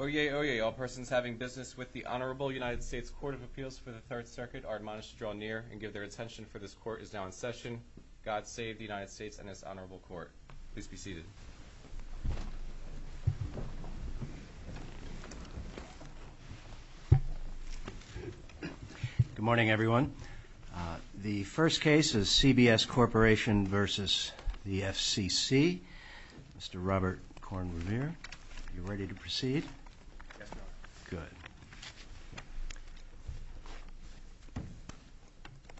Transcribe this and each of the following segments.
Oyez, oyez, all persons having business with the honorable United States Court of Appeals for the Third Circuit are admonished to draw near and give their attention for this court is now in session. God save the United States and its honorable court. Please be seated. Good morning, everyone. The first case is CBS Corporation v. FCC. Mr. Robert Korn Revere, are you ready to proceed? Good.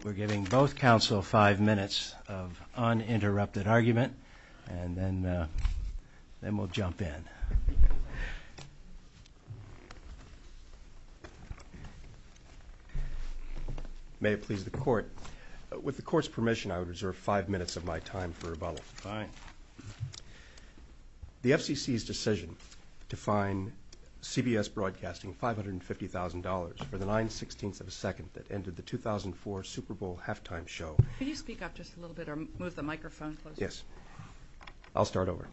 We're giving both counsel five minutes of uninterrupted argument and then we'll jump in. May it please the court. With the court's permission, I would reserve five minutes of my time for rebuttal. The FCC's decision to fine CBS Broadcasting $550,000 for the 916th of a second that ended the 2004 Super Bowl halftime show. Could you speak up just a little bit or move the microphone? Yes. I'll start over.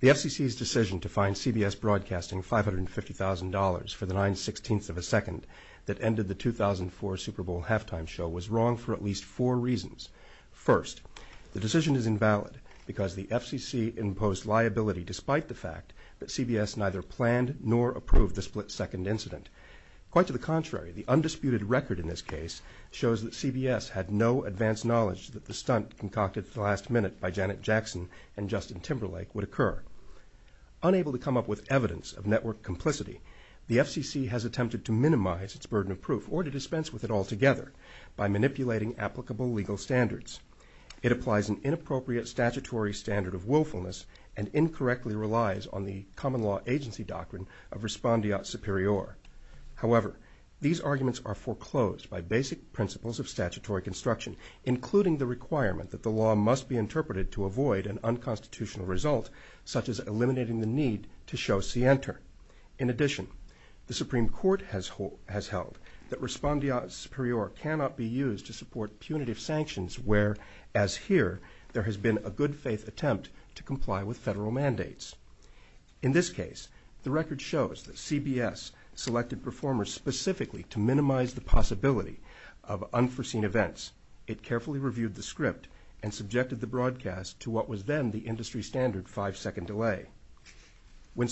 The FCC's decision to fine CBS Broadcasting $550,000 for the 916th of a second that ended the 2004 Super Bowl halftime show was wrong for at least four reasons. First, the decision is invalid because the FCC imposed liability despite the fact that CBS neither planned nor approved the split-second incident. Quite to the contrary, the undisputed record in this case shows that CBS had no advanced knowledge that the stunt concocted at the last minute by Janet Jackson and Justin Timberlake would occur. Unable to come up with evidence of network complicity, the FCC has attempted to minimize its burden of proof or to dispense with it altogether by manipulating applicable legal standards. It applies an inappropriate statutory standard of willfulness and incorrectly relies on the common law agency doctrine of respondeat superior. However, these arguments are foreclosed by basic principles of statutory construction, including the requirement that the law must be interpreted to avoid an unconstitutional result such as eliminating the need to show scienter. In addition, the Supreme Court has held that respondeat superior cannot be used to support punitive sanctions where, as here, there has been a good-faith attempt to comply with federal mandates. In this case, the record shows that CBS selected performers specifically to minimize the possibility of unforeseen events. It carefully reviewed the script and subjected the broadcast to what was then the industry standard five-second delay. When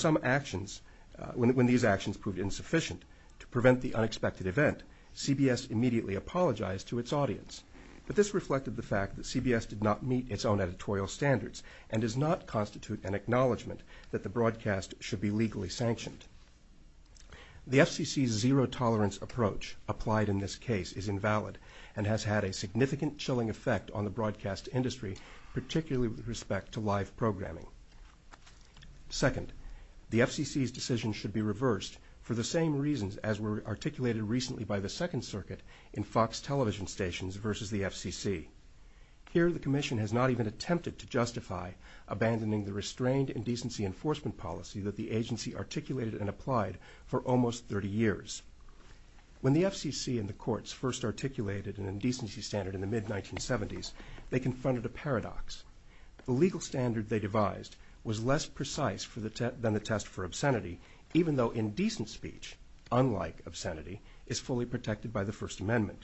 these actions proved insufficient to prevent the unexpected event, CBS immediately apologized to its audience. But this reflected the fact that CBS did not meet its own editorial standards and does not constitute an acknowledgment that the broadcast should be legally sanctioned. The FCC's zero-tolerance approach applied in this case is invalid and has had a significant chilling effect on the broadcast industry, particularly with respect to live programming. Second, the FCC's decision should be reversed for the same reasons as were articulated recently by the Second Circuit in Fox television stations versus the FCC. Here, the Commission has not even attempted to justify abandoning the restrained indecency enforcement policy that the agency articulated and applied for almost 30 years. When the FCC and the courts first articulated an indecency standard in the mid-1970s, they confronted a paradox. The legal standard they devised was less precise than the test for obscenity, even though indecent speech, unlike obscenity, is fully protected by the First Amendment.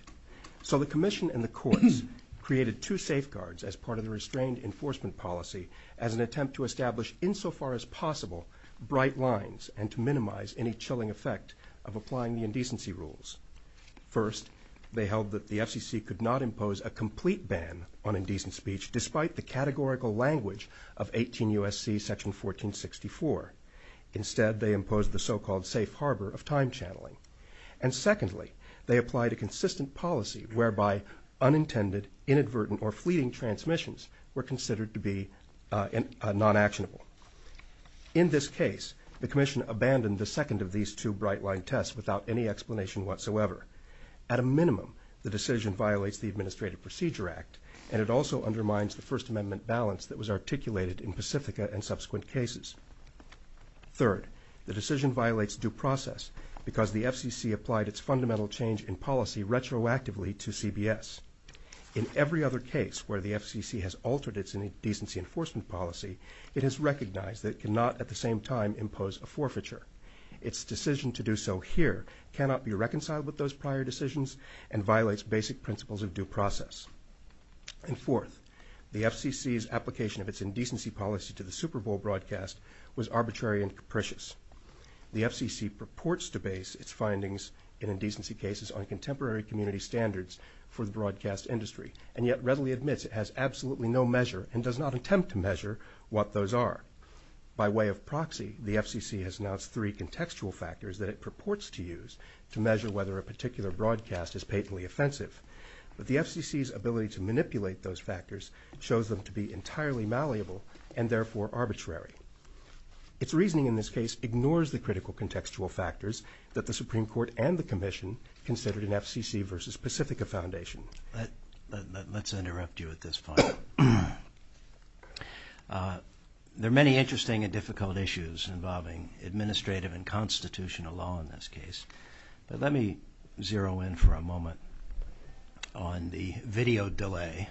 So the Commission and the courts created two safeguards as part of the restrained enforcement policy as an attempt to establish, insofar as possible, bright lines and to minimize any chilling effect of applying the indecency rules. First, they held that the FCC could not impose a complete ban on indecent speech despite the categorical language of 18 U.S.C. section 1464. Instead, they imposed the so-called safe harbor of time channeling. And secondly, they applied a consistent policy whereby unintended, inadvertent, or fleeting transmissions were considered to be non-actionable. In this case, the Commission abandoned the second of these two bright-line tests without any explanation whatsoever. At a minimum, the decision violates the Administrative Procedure Act, and it also undermines the First Amendment balance that was articulated in Pacifica and subsequent cases. Third, the decision violates due process because the FCC applied its fundamental change in policy retroactively to CBS. In every other case where the FCC has altered its indecency enforcement policy, it has recognized that it cannot at the same time impose a forfeiture. Its decision to do so here cannot be reconciled with those prior decisions and violates basic principles of due process. And fourth, the FCC's application of its indecency policy to the Super Bowl broadcast was arbitrary and capricious. The FCC purports to base its findings in indecency cases on contemporary community standards for the broadcast industry, and yet readily admits it has absolutely no measure and does not attempt to measure what those are. By way of proxy, the FCC has announced three contextual factors that it purports to use to measure whether a particular broadcast is patently offensive. But the FCC's ability to manipulate those factors shows them to be entirely malleable and therefore arbitrary. Its reasoning in this case ignores the critical contextual factors that the Supreme Court and the Commission consider an FCC versus Pacifica foundation. Let's interrupt you at this point. There are many interesting and difficult issues involving administrative and constitutional law in this case. But let me zero in for a moment on the video delay.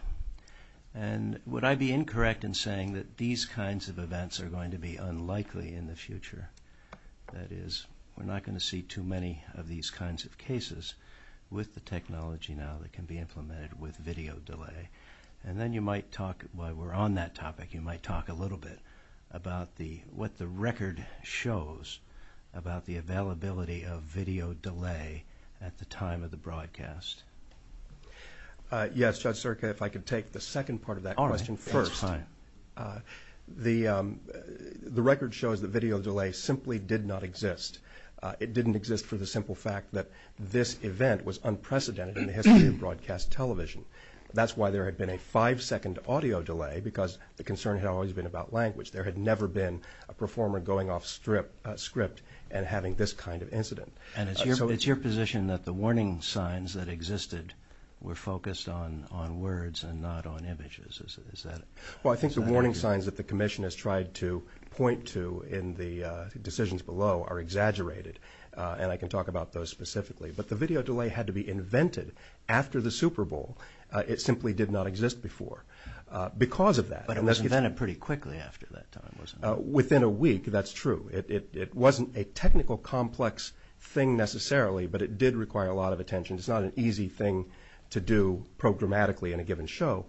And would I be incorrect in saying that these kinds of events are going to be unlikely in the future? That is, we're not going to see too many of these kinds of cases with the technology now that can be implemented with video delay. And then you might talk, while we're on that topic, you might talk a little bit about what the record shows about the availability of video delay at the time of the broadcast. Yes, Judge Serka, if I could take the second part of that question first. That's fine. The record shows that video delay simply did not exist. It didn't exist for the simple fact that this event was unprecedented in the history of broadcast television. That's why there had been a five-second audio delay because the concern had always been about language. There had never been a performer going off script and having this kind of incident. And it's your position that the warning signs that existed were focused on words and not on images. Well, I think the warning signs that the Commission has tried to point to in the decisions below are exaggerated. And I can talk about those specifically. But the video delay had to be invented after the Super Bowl. It simply did not exist before because of that. But it was invented pretty quickly after that time, wasn't it? Within a week, that's true. It wasn't a technical, complex thing necessarily, but it did require a lot of attention. It's not an easy thing to do programmatically in a given show.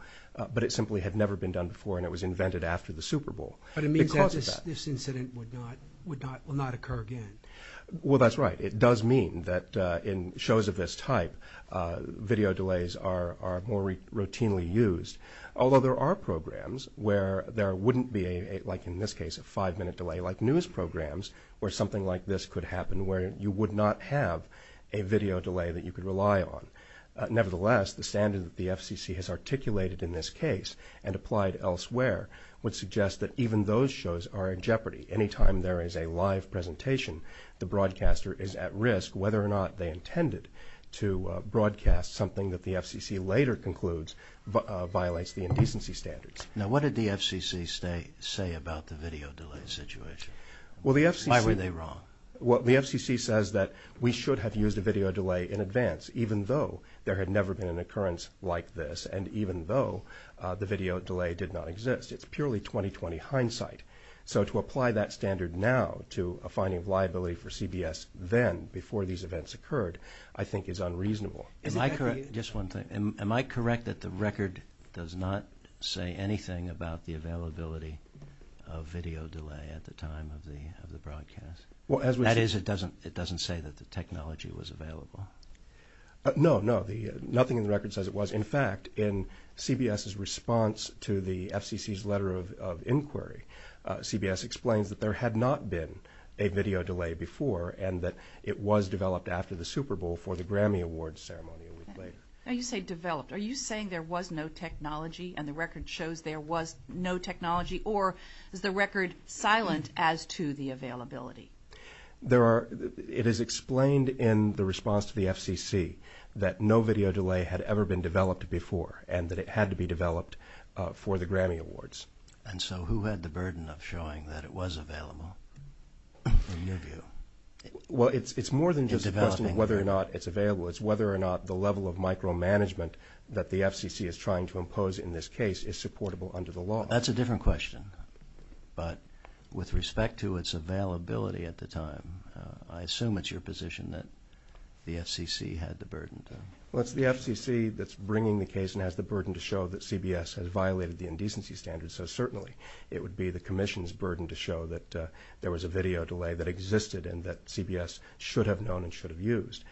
But it simply had never been done before, and it was invented after the Super Bowl. But it means that this incident would not occur again. Well, that's right. It does mean that in shows of this type, video delays are more routinely used. Although there are programs where there wouldn't be, like in this case, a five-minute delay, like news programs where something like this could happen where you would not have a video delay that you could rely on. Nevertheless, the standard that the FCC has articulated in this case and applied elsewhere would suggest that even those shows are in jeopardy. Any time there is a live presentation, the broadcaster is at risk, whether or not they intended to broadcast something that the FCC later concludes violates the indecency standards. Now, what did the FCC say about the video delay situation? Why were they wrong? Well, the FCC says that we should have used a video delay in advance, even though there had never been an occurrence like this, and even though the video delay did not exist. It's purely 20-20 hindsight. So to apply that standard now to a finding of liability for CBS then, before these events occurred, I think is unreasonable. Am I correct? Just one thing. Am I correct that the record does not say anything about the availability of video delay at the time of the broadcast? That is, it doesn't say that the technology was available? No, no. Nothing in the record says it was. In fact, in CBS's response to the FCC's letter of inquiry, CBS explained that there had not been a video delay before and that it was developed after the Super Bowl for the Grammy Awards ceremony. Now you say developed. Are you saying there was no technology and the record shows there was no technology, or is the record silent as to the availability? It is explained in the response to the FCC that no video delay had ever been developed before and that it had to be developed for the Grammy Awards. And so who had the burden of showing that it was available, in your view? Well, it's more than just a question of whether or not it's available. It's whether or not the level of micromanagement that the FCC is trying to impose in this case is supportable under the law. That's a different question. But with respect to its availability at the time, I assume it's your position that the FCC had the burden. Well, it's the FCC that's bringing the case and has the burden to show that CBS has violated the indecency standards. So certainly it would be the Commission's burden to show that there was a video delay that existed and that CBS should have known and should have used.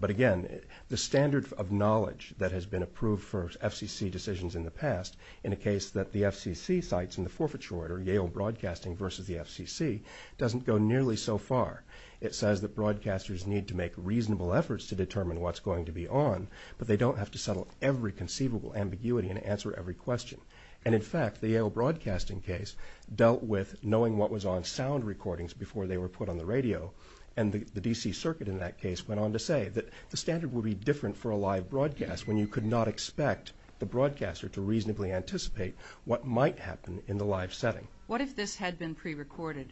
But again, the standard of knowledge that has been approved for FCC decisions in the past in a case that the FCC cites in the forfeiture order, Yale Broadcasting versus the FCC, doesn't go nearly so far. It says that broadcasters need to make reasonable efforts to determine what's going to be on, but they don't have to settle every conceivable ambiguity and answer every question. And in fact, the Yale Broadcasting case dealt with knowing what was on sound recordings before they were put on the radio. And the D.C. Circuit in that case went on to say that the standard would be different for a live broadcast when you could not expect the broadcaster to reasonably anticipate what might happen in the live setting. What if this had been prerecorded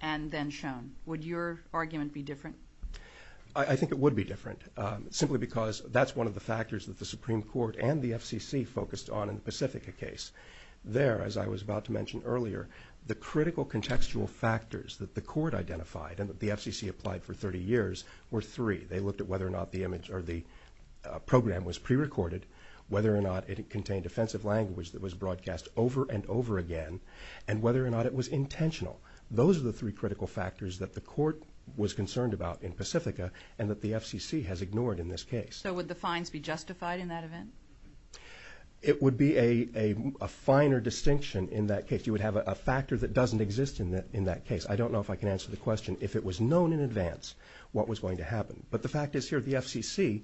and then shown? Would your argument be different? I think it would be different, simply because that's one of the factors that the Supreme Court and the FCC focused on in the Pacifica case. There, as I was about to mention earlier, the critical contextual factors that the Court identified and that the FCC applied for 30 years were three. They looked at whether or not the image or the program was prerecorded, whether or not it contained offensive language that was broadcast over and over again, and whether or not it was intentional. Those are the three critical factors that the Court was concerned about in Pacifica and that the FCC has ignored in this case. So would the fines be justified in that event? It would be a finer distinction in that case. You would have a factor that doesn't exist in that case. I don't know if I can answer the question if it was known in advance what was going to happen, but the fact is here the FCC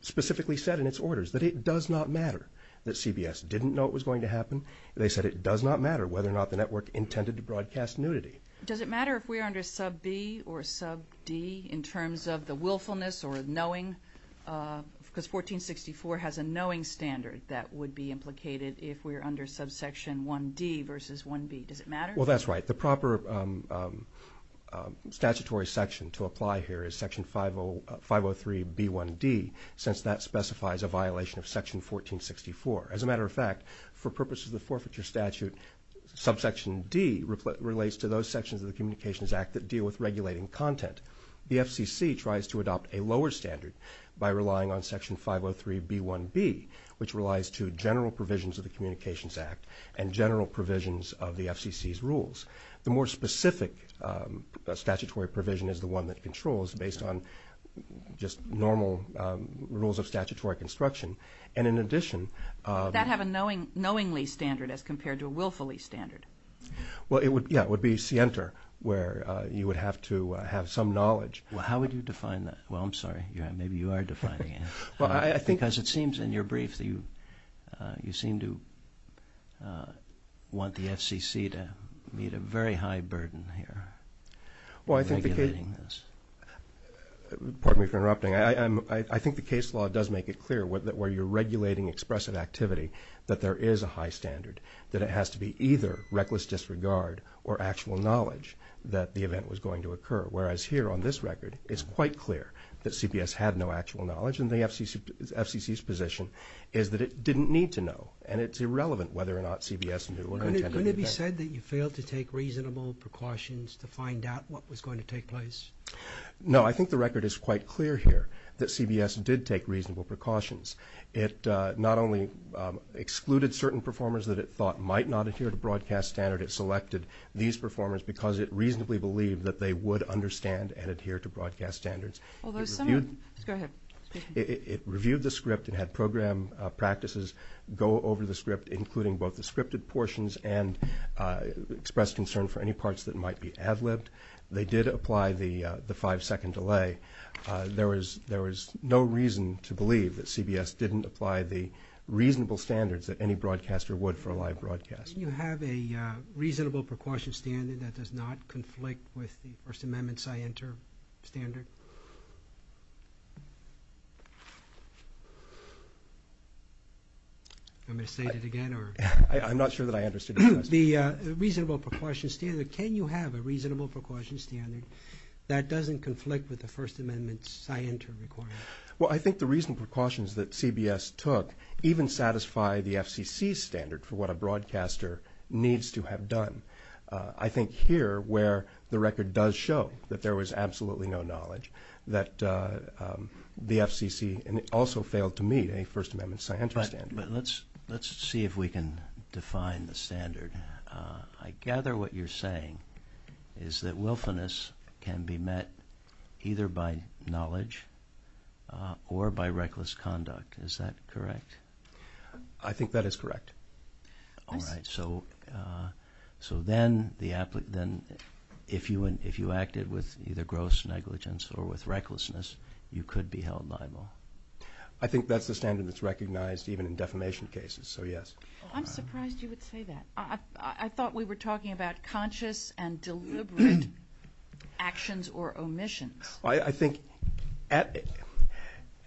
specifically said in its orders that it does not matter that CBS didn't know it was going to happen. They said it does not matter whether or not the network intended to broadcast nudity. Does it matter if we're under sub B or sub D in terms of the willfulness or knowing? Because 1464 has a knowing standard that would be implicated if we're under subsection 1D versus 1B. Does it matter? Well, that's right. The proper statutory section to apply here is section 503B1D since that specifies a violation of section 1464. As a matter of fact, for purposes of forfeiture statute, subsection D relates to those sections of the Communications Act that deal with regulating content. The FCC tries to adopt a lower standard by relying on section 503B1B, which relies to general provisions of the Communications Act and general provisions of the FCC's rules. The more specific statutory provision is the one that controls based on just normal rules of statutory construction. Does that have a knowingly standard as compared to a willfully standard? Well, yeah, it would be scienter where you would have to have some knowledge. Well, how would you define that? Well, I'm sorry. Maybe you are defining it. I think as it seems in your brief, you seem to want the FCC to meet a very high burden here. Well, I think the case... Pardon me for interrupting. I think the case law does make it clear where you're regulating expressive activity that there is a high standard, that it has to be either reckless disregard or actual knowledge that the event was going to occur, whereas here on this record, it's quite clear that CBS had no actual knowledge, and the FCC's position is that it didn't need to know, and it's irrelevant whether or not CBS intended to do that. Couldn't it be said that you failed to take reasonable precautions to find out what was going to take place? No, I think the record is quite clear here that CBS did take reasonable precautions. It not only excluded certain performers that it thought might not adhere to broadcast standard, but it selected these performers because it reasonably believed that they would understand and adhere to broadcast standards. Go ahead. It reviewed the script and had program practices go over the script, including both the scripted portions and expressed concern for any parts that might be ad-libbed. They did apply the five-second delay. There was no reason to believe that CBS didn't apply the reasonable standards that any broadcaster would for a live broadcast. Can you have a reasonable precaution standard that does not conflict with the First Amendment scientific standard? I'm going to state it again. I'm not sure that I understood the question. The reasonable precaution standard, can you have a reasonable precaution standard that doesn't conflict with the First Amendment scientific standard? Well, I think the reasonable precautions that CBS took even satisfy the FCC standard for what a broadcaster needs to have done. I think here where the record does show that there was absolutely no knowledge, that the FCC also failed to meet a First Amendment scientific standard. Let's see if we can define the standard. I gather what you're saying is that willfulness can be met either by knowledge or by reckless conduct. Is that correct? I think that is correct. All right, so then if you acted with either gross negligence or with recklessness, you could be held liable. I think that's the standard that's recognized even in defamation cases, so yes. I'm surprised you would say that. I thought we were talking about conscious and deliberate actions or omissions. I think at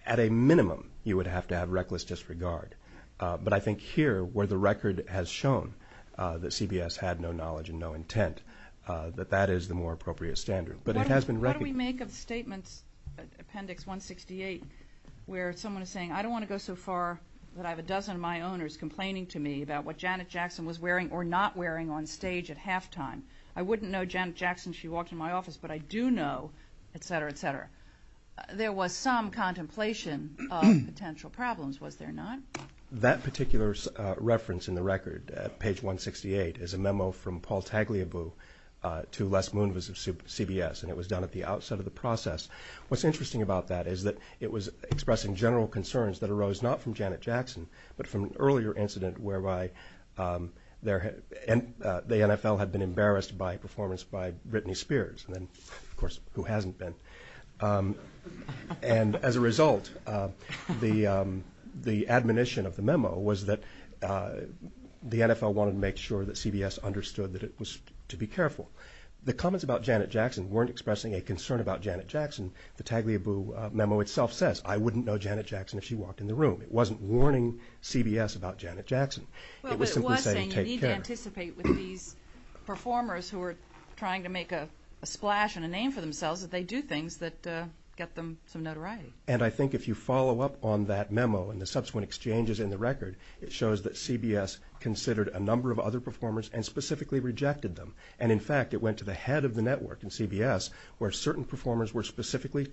a minimum you would have to have reckless disregard, but I think here where the record has shown that CBS had no knowledge and no intent, that that is the more appropriate standard, but it has been recognized. How do we make a statement, Appendix 168, where someone is saying, I don't want to go so far that I have a dozen of my owners complaining to me about what Janet Jackson was wearing or not wearing on stage at halftime. I wouldn't know Janet Jackson if she walked in my office, but I do know, et cetera, et cetera. There was some contemplation of potential problems, was there not? That particular reference in the record, Page 168, is a memo from Paul Tagliabue to Les Moonves of CBS, and it was done at the outset of the process. What's interesting about that is that it was expressing general concerns that arose not from Janet Jackson, but from an earlier incident whereby the NFL had been embarrassed by a performance by Britney Spears, and then, of course, who hasn't been. And as a result, the admonition of the memo was that the NFL wanted to make sure that CBS understood that it was to be careful. The comments about Janet Jackson weren't expressing a concern about Janet Jackson. The Tagliabue memo itself says, I wouldn't know Janet Jackson if she walked in the room. It wasn't warning CBS about Janet Jackson. It was simply saying, take care. But one thing you need to anticipate with these performers who are trying to make a splash and a name for themselves is they do things that get them some notoriety. And I think if you follow up on that memo and the subsequent exchanges in the record, it shows that CBS considered a number of other performers and specifically rejected them. And, in fact, it went to the head of the network in CBS, where certain performers were specifically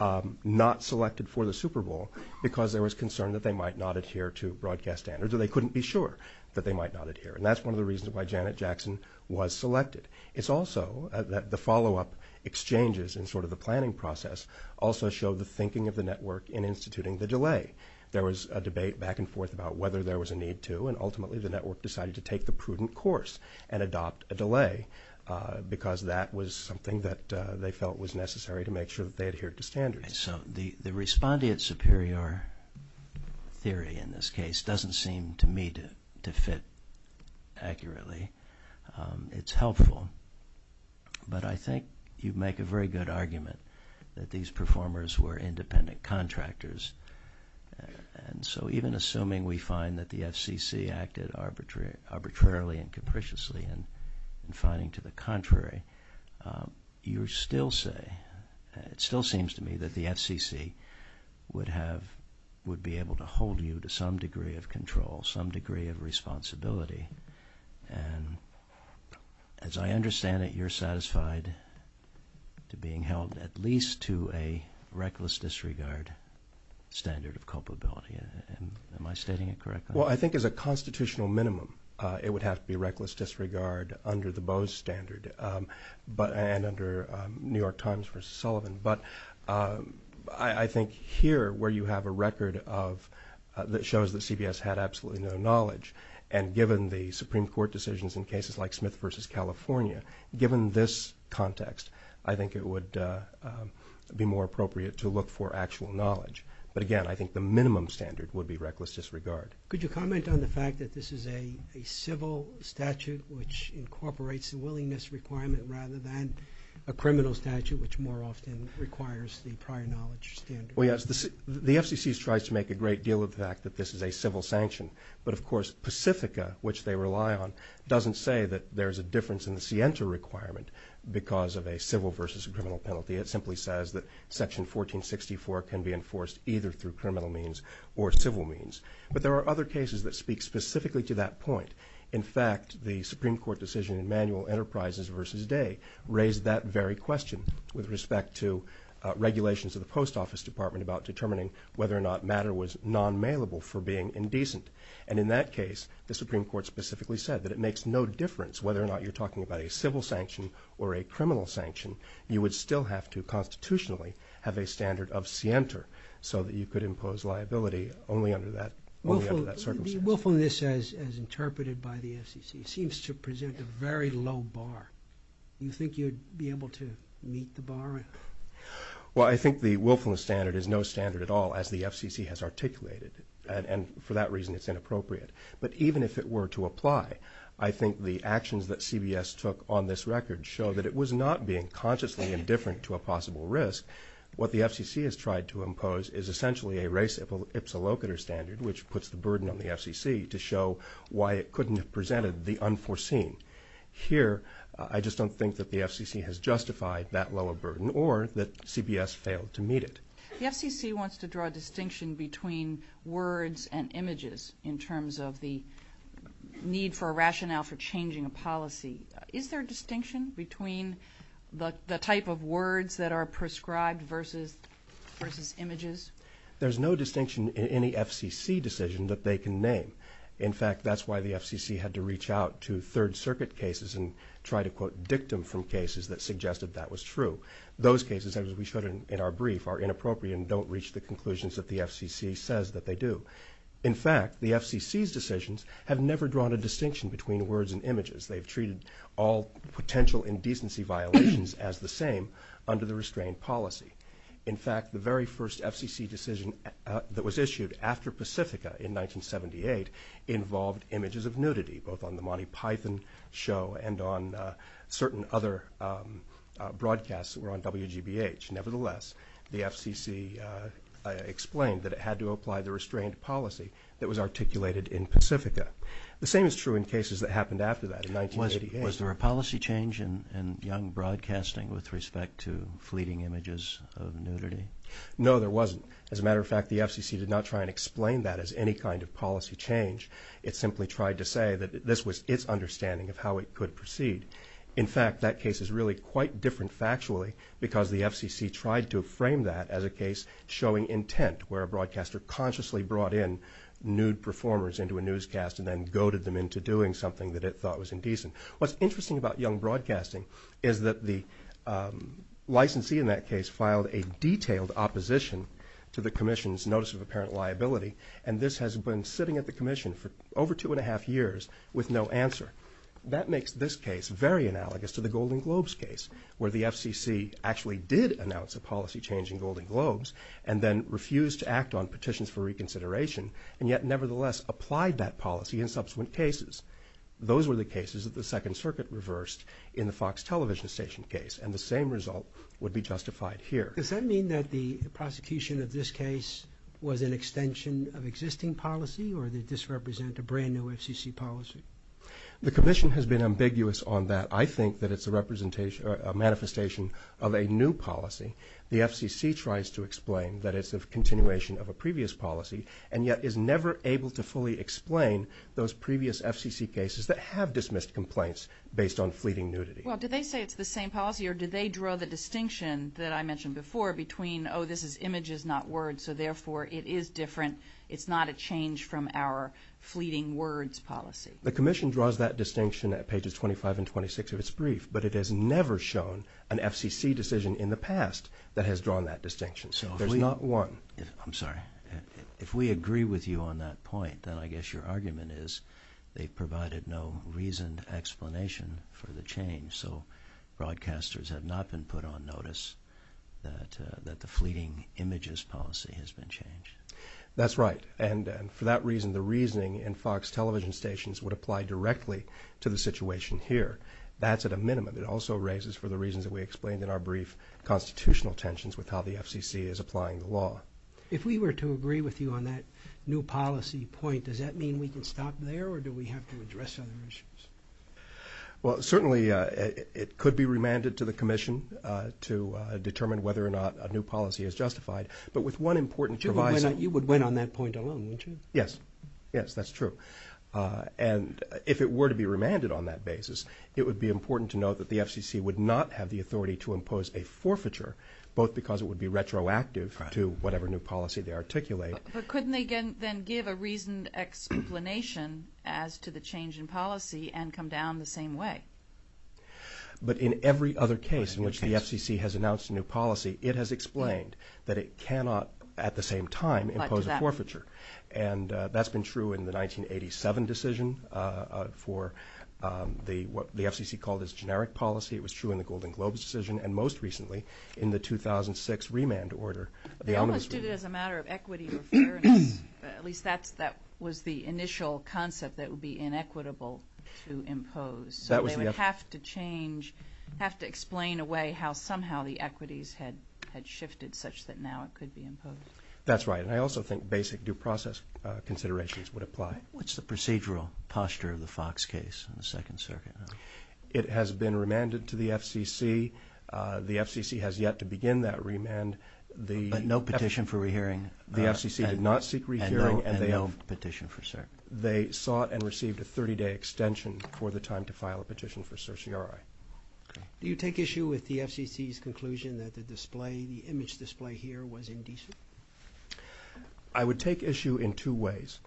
not selected for the Super Bowl because there was concern that they might not adhere to broadcast standards, and they couldn't be sure that they might not adhere. And that's one of the reasons why Janet Jackson was selected. It's also that the follow-up exchanges and sort of the planning process also showed the thinking of the network in instituting the delay. There was a debate back and forth about whether there was a need to, and ultimately the network decided to take the prudent course and adopt a delay because that was something that they felt was necessary to make sure that they adhered to standards. So the respondent superior theory in this case doesn't seem to me to fit accurately. It's helpful. But I think you'd make a very good argument that these performers were independent contractors. And so even assuming we find that the FCC acted arbitrarily and capriciously and finding to the contrary, you still say, it still seems to me that the FCC would be able to hold you to some degree of control, some degree of responsibility. And as I understand it, you're satisfied to being held at least to a reckless disregard standard of culpability. Am I stating it correctly? Well, I think as a constitutional minimum, it would have to be reckless disregard under the Bose standard and under New York Times v. Sullivan. But I think here, where you have a record that shows that CBS had absolutely no knowledge and given the Supreme Court decisions in cases like Smith v. California, given this context, I think it would be more appropriate to look for actual knowledge. But again, I think the minimum standard would be reckless disregard. Could you comment on the fact that this is a civil statute which incorporates a willingness requirement rather than a criminal statute, which more often requires the prior knowledge standard? Well, yes. The FCC has tried to make a great deal of the fact that this is a civil sanction. But of course, Pacifica, which they rely on, doesn't say that there's a difference in the Sienta requirement because of a civil versus a criminal penalty. It simply says that Section 1464 can be enforced either through criminal means or civil means. But there are other cases that speak specifically to that point. In fact, the Supreme Court decision in Manual Enterprises v. Day raised that very question with respect to regulations of the Post Office Department about determining whether or not matter was non-mailable for being indecent. And in that case, the Supreme Court specifically said that it makes no difference whether or not you're talking about a civil sanction or a criminal sanction. You would still have to constitutionally have a standard of Sienta so that you could impose liability only under that circumstance. Willfulness, as interpreted by the FCC, seems to present a very low bar. Do you think you'd be able to meet the bar? Well, I think the willfulness standard is no standard at all, as the FCC has articulated. And for that reason, it's inappropriate. But even if it were to apply, I think the actions that CBS took on this record show that it was not being consciously indifferent to a possible risk. What the FCC has tried to impose is essentially a race-ipsilocator standard, which puts the burden on the FCC to show why it couldn't have presented the unforeseen. Here, I just don't think that the FCC has justified that level of burden or that CBS failed to meet it. The FCC wants to draw a distinction between words and images in terms of the need for a rationale for changing policy. Is there a distinction between the type of words that are prescribed versus images? There's no distinction in any FCC decision that they can name. In fact, that's why the FCC had to reach out to Third Circuit cases and try to quote dictum from cases that suggested that was true. Those cases, as we showed in our brief, are inappropriate and don't reach the conclusions that the FCC says that they do. In fact, the FCC's decisions have never drawn a distinction between words and images. They've treated all potential indecency violations as the same under the restrained policy. In fact, the very first FCC decision that was issued after Pacifica in 1978 involved images of nudity, both on the Monty Python show and on certain other broadcasts that were on WGBH. Nevertheless, the FCC explained that it had to apply the restrained policy that was articulated in Pacifica. The same is true in cases that happened after that in 1988. Was there a policy change in young broadcasting with respect to fleeting images of nudity? No, there wasn't. As a matter of fact, the FCC did not try to explain that as any kind of policy change. It simply tried to say that this was its understanding of how it could proceed. In fact, that case is really quite different factually because the FCC tried to frame that as a case showing intent, where a broadcaster consciously brought in nude performers into a newscast and then goaded them into doing something that it thought was indecent. What's interesting about young broadcasting is that the licensee in that case filed a detailed opposition to the commission's notice of apparent liability, and this has been sitting at the commission for over two and a half years with no answer. That makes this case very analogous to the Golden Globes case, where the FCC actually did announce a policy change in Golden Globes and then refused to act on petitions for reconsideration and yet nevertheless applied that policy in subsequent cases. Those were the cases that the Second Circuit reversed in the Fox television station case, and the same result would be justified here. Does that mean that the prosecution of this case was an extension of existing policy, or did this represent a brand-new FCC policy? The commission has been ambiguous on that. I think that it's a manifestation of a new policy. The FCC tries to explain that it's a continuation of a previous policy, and yet is never able to fully explain those previous FCC cases that have dismissed complaints based on fleeting nudity. Did they say it's the same policy, or did they draw the distinction that I mentioned before between, oh, this is images, not words, so therefore it is different, it's not a change from our fleeting words policy? The commission draws that distinction at pages 25 and 26 of its brief, but it has never shown an FCC decision in the past that has drawn that distinction. There's not one. I'm sorry. If we agree with you on that point, then I guess your argument is they've provided no reasoned explanation for the change, so broadcasters have not been put on notice that the fleeting images policy has been changed. That's right, and for that reason, the reasoning in Fox television stations would apply directly to the situation here. That's at a minimum. It also raises, for the reasons that we explained in our brief, constitutional tensions with how the FCC is applying the law. If we were to agree with you on that new policy point, does that mean we can stop there, or do we have to address other issues? Well, certainly it could be remanded to the commission to determine whether or not a new policy is justified, but with one important device. But you would win on that point alone, wouldn't you? Yes. Yes, that's true. And if it were to be remanded on that basis, it would be important to note that the FCC would not have the authority to impose a forfeiture, both because it would be retroactive to whatever new policy they articulate. But couldn't they then give a reasoned explanation as to the change in policy and come down the same way? But in every other case in which the FCC has announced a new policy, it has explained that it cannot at the same time impose a forfeiture. And that's been true in the 1987 decision for what the FCC called its generic policy. It was true in the Golden Globe decision, and most recently in the 2006 remand order. I understood it as a matter of equity or fairness. At least that was the initial concept that it would be inequitable to impose. So they would have to change, have to explain away how somehow the equities had shifted such that now it could be imposed. That's right. And I also think basic due process considerations would apply. What's the procedural posture of the Fox case on the Second Circuit? It has been remanded to the FCC. The FCC has yet to begin that remand. But no petition for rehearing. The FCC did not seek rehearing. And no petition for cert. They sought and received a 30-day extension for the time to file a petition for certiorari. Do you take issue with the FCC's conclusion that the display, the image display here was indecent? I would take issue in two ways.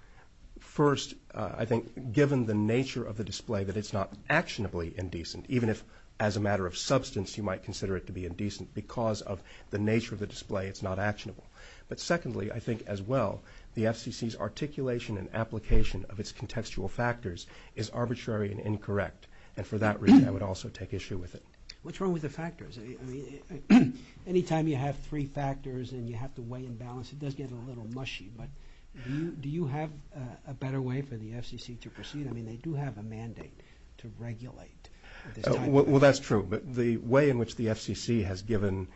First, I think given the nature of the display, that it's not actionably indecent, even if as a matter of substance you might consider it to be indecent because of the nature of the display, it's not actionable. But secondly, I think as well, the FCC's articulation and application of its contextual factors is arbitrary and incorrect. And for that reason, I would also take issue with it. What's wrong with the factors? I mean, any time you have three factors and you have to weigh and balance, it does get a little mushy. But do you have a better way for the FCC to proceed? I mean, they do have a mandate to regulate. Well, that's true. But the way in which the FCC has given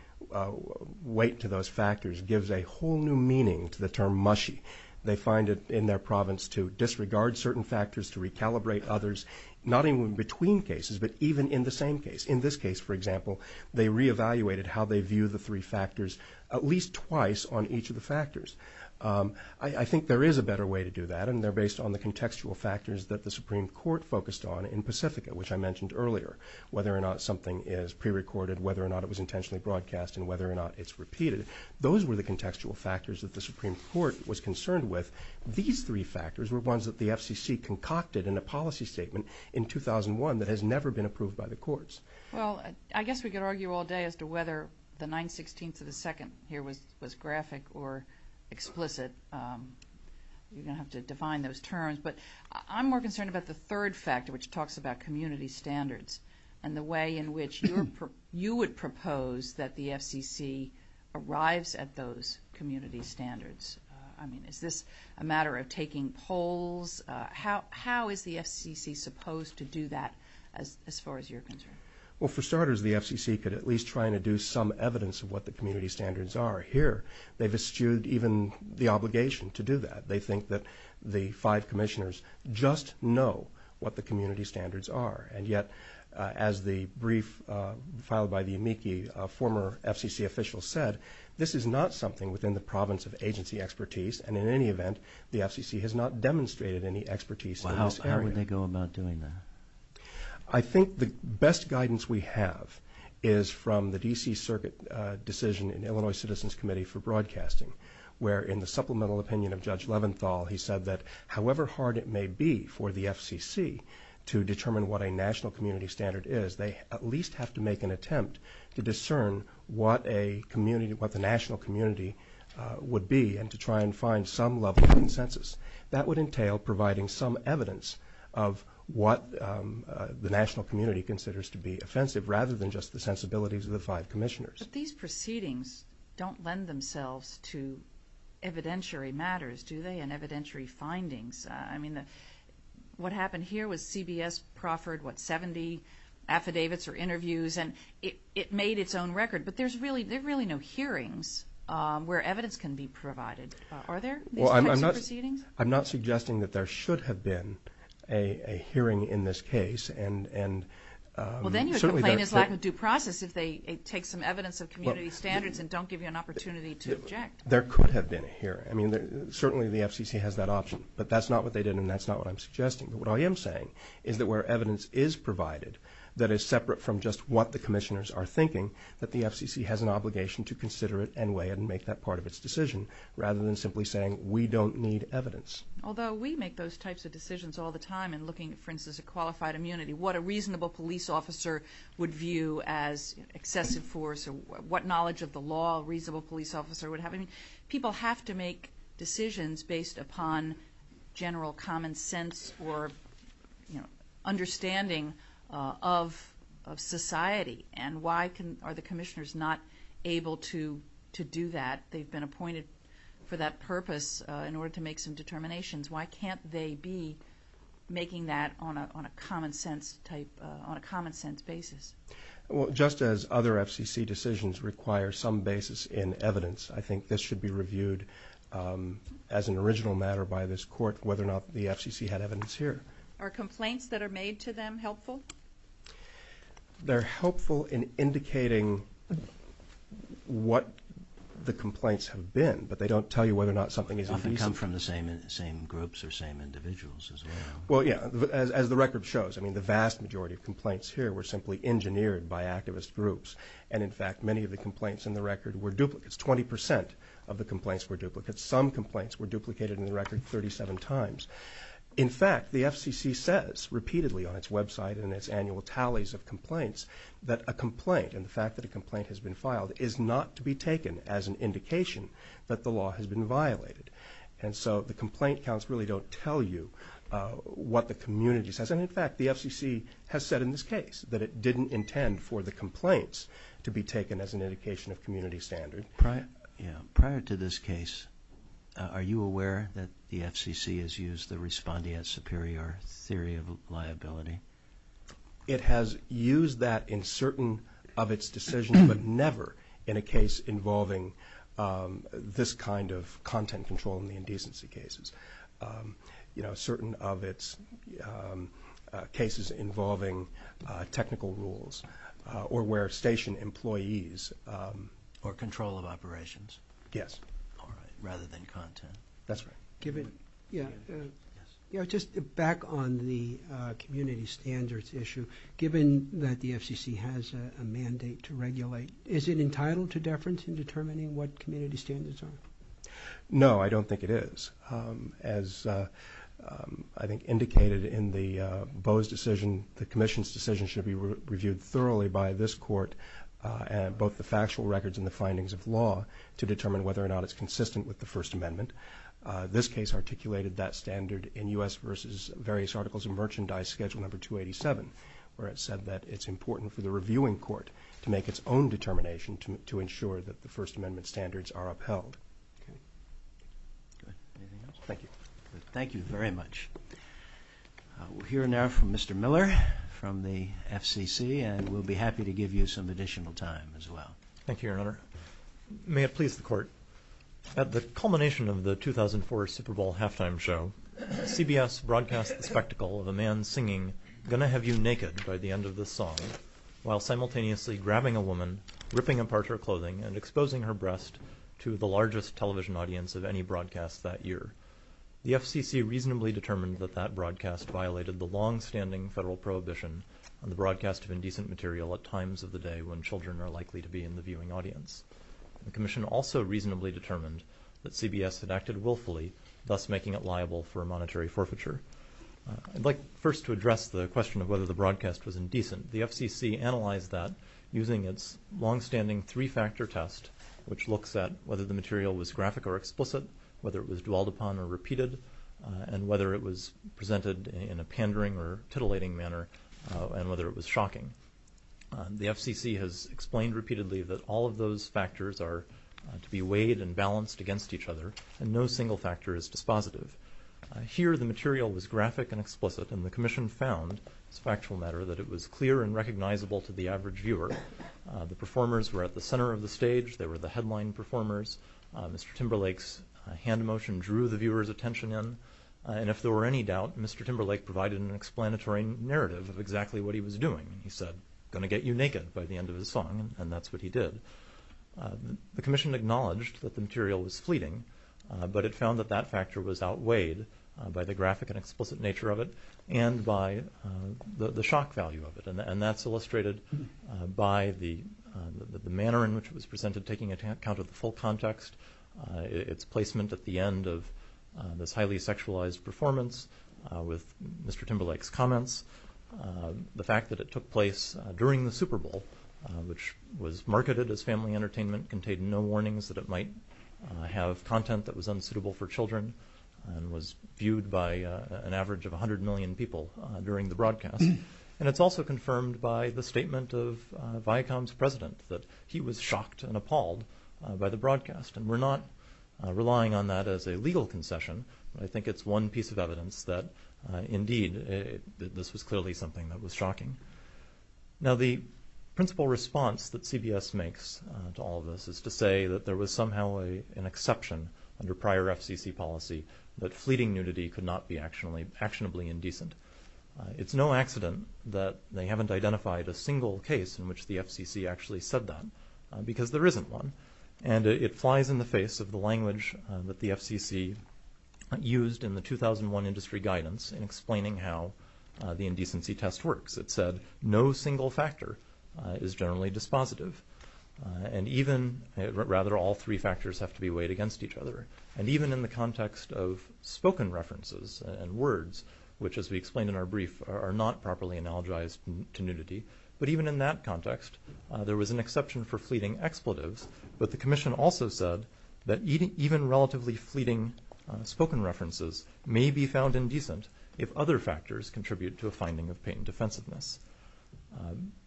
weight to those factors gives a whole new meaning to the term mushy. They find it in their province to disregard certain factors, to recalibrate others, not even between cases but even in the same case. In this case, for example, they reevaluated how they view the three factors at least twice on each of the factors. I think there is a better way to do that, and they're based on the contextual factors that the Supreme Court focused on in Pacifica, which I mentioned earlier, whether or not something is prerecorded, whether or not it was intentionally broadcast, and whether or not it's repeated. Those were the contextual factors that the Supreme Court was concerned with. These three factors were ones that the FCC concocted in a policy statement in 2001 that has never been approved by the courts. Well, I guess we could argue all day as to whether the 916th of the 2nd here was graphic or explicit. We're going to have to define those terms. But I'm more concerned about the third factor, which talks about community standards and the way in which you would propose that the FCC arrives at those community standards. I mean, is this a matter of taking polls? How is the FCC supposed to do that as far as you're concerned? Well, for starters, the FCC could at least try to do some evidence of what the community standards are. Here, they've eschewed even the obligation to do that. They think that the five commissioners just know what the community standards are. And yet, as the brief filed by the amici, former FCC officials said, this is not something within the province of agency expertise, and in any event, the FCC has not demonstrated any expertise in this area. Well, how would they go about doing that? I think the best guidance we have is from the D.C. Circuit decision in the Illinois Citizens Committee for Broadcasting, where in the supplemental opinion of Judge Leventhal, he said that however hard it may be for the FCC to determine what a national community standard is, they at least have to make an attempt to discern what the national community would be and to try and find some level of consensus. That would entail providing some evidence of what the national community considers to be offensive, rather than just the sensibilities of the five commissioners. But these proceedings don't lend themselves to evidentiary matters, do they, and evidentiary findings. I mean, what happened here was CBS proffered, what, 70 affidavits or interviews, and it made its own record. But there's really no hearings where evidence can be provided, are there? Well, I'm not suggesting that there should have been a hearing in this case. Well, then you're complaining it's lacking due process, because they take some evidence of community standards and don't give you an opportunity to object. There could have been a hearing. I mean, certainly the FCC has that option. But that's not what they did, and that's not what I'm suggesting. What I am saying is that where evidence is provided that is separate from just what the commissioners are thinking, that the FCC has an obligation to consider it anyway and make that part of its decision, rather than simply saying we don't need evidence. Although we make those types of decisions all the time in looking, for instance, at qualified immunity, what a reasonable police officer would view as excessive force, or what knowledge of the law a reasonable police officer would have. I mean, people have to make decisions based upon general common sense or understanding of society. And why are the commissioners not able to do that? They've been appointed for that purpose in order to make some determinations. Why can't they be making that on a common-sense basis? Well, just as other FCC decisions require some basis in evidence, I think this should be reviewed as an original matter by this court whether or not the FCC had evidence here. Are complaints that are made to them helpful? They're helpful in indicating what the complaints have been, but they don't tell you whether or not something is reasonable. Often come from the same groups or same individuals as well. Well, yeah, as the record shows. I mean, the vast majority of complaints here were simply engineered by activist groups. And, in fact, many of the complaints in the record were duplicates. Twenty percent of the complaints were duplicates. Some complaints were duplicated in the record 37 times. In fact, the FCC says repeatedly on its website in its annual tallies of complaints that a complaint, and the fact that a complaint has been filed, is not to be taken as an indication that the law has been violated. And so the complaint counts really don't tell you what the community says. And, in fact, the FCC has said in this case that it didn't intend for the complaints to be taken as an indication of community standards. Prior to this case, are you aware that the FCC has used the respondeat superior theory of liability? It has used that in certain of its decisions, but never in a case involving this kind of content control in the indecency cases. You know, certain of its cases involving technical rules or where station employees or control of operations. Yes. All right, rather than content. That's right. Given, you know, just back on the community standards issue, given that the FCC has a mandate to regulate, is it entitled to deference in determining what community standards are? No, I don't think it is. As I think indicated in the Boe's decision, the commission's decision should be reviewed thoroughly by this court and both the factual records and the findings of law to determine whether or not it's consistent with the First Amendment. This case articulated that standard in U.S. versus various articles and merchandise schedule number 287, where it said that it's important for the reviewing court to make its own determination to ensure that the First Amendment standards are upheld. Thank you. Thank you very much. We'll hear now from Mr. Miller from the FCC, and we'll be happy to give you some additional time as well. Thank you, Your Honor. May it please the court. At the culmination of the 2004 Super Bowl halftime show, CBS broadcast the spectacle of a man singing I'm going to have you naked by the end of this song, while simultaneously grabbing a woman, ripping apart her clothing, and exposing her breast to the largest television audience of any broadcast that year. The FCC reasonably determined that that broadcast violated the longstanding federal prohibition on the broadcast of indecent material at times of the day when children are likely to be in the viewing audience. The commission also reasonably determined that CBS had acted willfully, thus making it liable for monetary forfeiture. I'd like first to address the question of whether the broadcast was indecent. The FCC analyzed that using its longstanding three-factor test, which looks at whether the material was graphic or explicit, whether it was dwelled upon or repeated, and whether it was presented in a pandering or titillating manner, and whether it was shocking. The FCC has explained repeatedly that all of those factors are to be weighed and balanced against each other, and no single factor is dispositive. Here, the material was graphic and explicit, and the commission found, as a factual matter, that it was clear and recognizable to the average viewer. The performers were at the center of the stage. They were the headline performers. Mr. Timberlake's hand motion drew the viewer's attention in, and if there were any doubt, Mr. Timberlake provided an explanatory narrative of exactly what he was doing. He said, I'm going to get you naked by the end of this song, and that's what he did. The commission acknowledged that the material was fleeting, but it found that that factor was outweighed by the graphic and explicit nature of it and by the shock value of it, and that's illustrated by the manner in which it was presented, taking account of the full context, its placement at the end of this highly sexualized performance with Mr. Timberlake's comments, the fact that it took place during the Super Bowl, which was marketed as family entertainment, contained no warnings that it might have content that was unsuitable for children, and was viewed by an average of 100 million people during the broadcast. And it's also confirmed by the statement of Viacom's president, that he was shocked and appalled by the broadcast, and we're not relying on that as a legal concession. I think it's one piece of evidence that, indeed, this is clearly something that was shocking. Now, the principal response that CBS makes to all of this is to say that there was somehow an exception under prior FCC policy that fleeting nudity could not be actionably indecent. It's no accident that they haven't identified a single case in which the FCC actually said that, because there isn't one, and it flies in the face of the language that the FCC used in the 2001 industry guidance in explaining how the indecency test works. It said no single factor is generally dispositive, and even, rather, all three factors have to be weighed against each other. And even in the context of spoken references and words, which, as we explained in our brief, are not properly analogized to nudity, but even in that context, there was an exception for fleeting expletives, but the commission also said that even relatively fleeting spoken references may be found indecent if other factors contribute to a finding of patent defensiveness.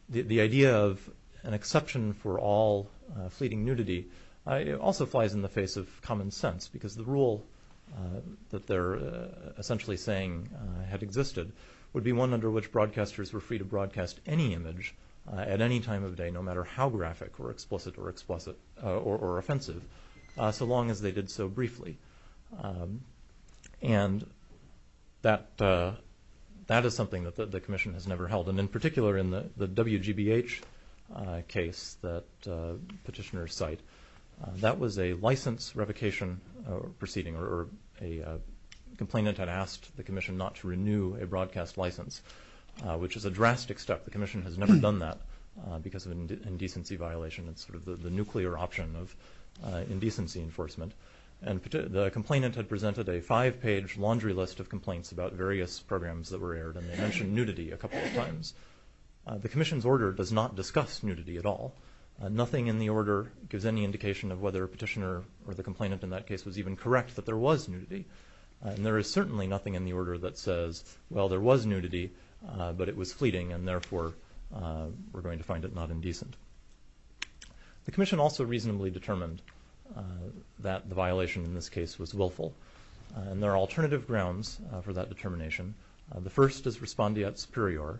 The idea of an exception for all fleeting nudity also flies in the face of common sense, because the rule that they're essentially saying had existed would be one under which broadcasters were free to broadcast any image at any time of day, no matter how graphic or explicit or offensive, so long as they did so briefly. And that is something that the commission has never held, and in particular in the WGBH case that petitioners cite, that was a license revocation proceeding, or a complainant had asked the commission not to renew a broadcast license, which is a drastic step. The commission has never done that because of an indecency violation. It's sort of the nuclear option of indecency enforcement. And the complainant had presented a five-page laundry list of complaints about various programs that were aired, and they mentioned nudity a couple of times. The commission's order does not discuss nudity at all. Nothing in the order gives any indication of whether a petitioner or the complainant in that case was even correct that there was nudity. And there is certainly nothing in the order that says, well, there was nudity, but it was fleeting, and therefore we're going to find it not indecent. The commission also reasonably determined that the violation in this case was willful, and there are alternative grounds for that determination. The first is respondeat superior.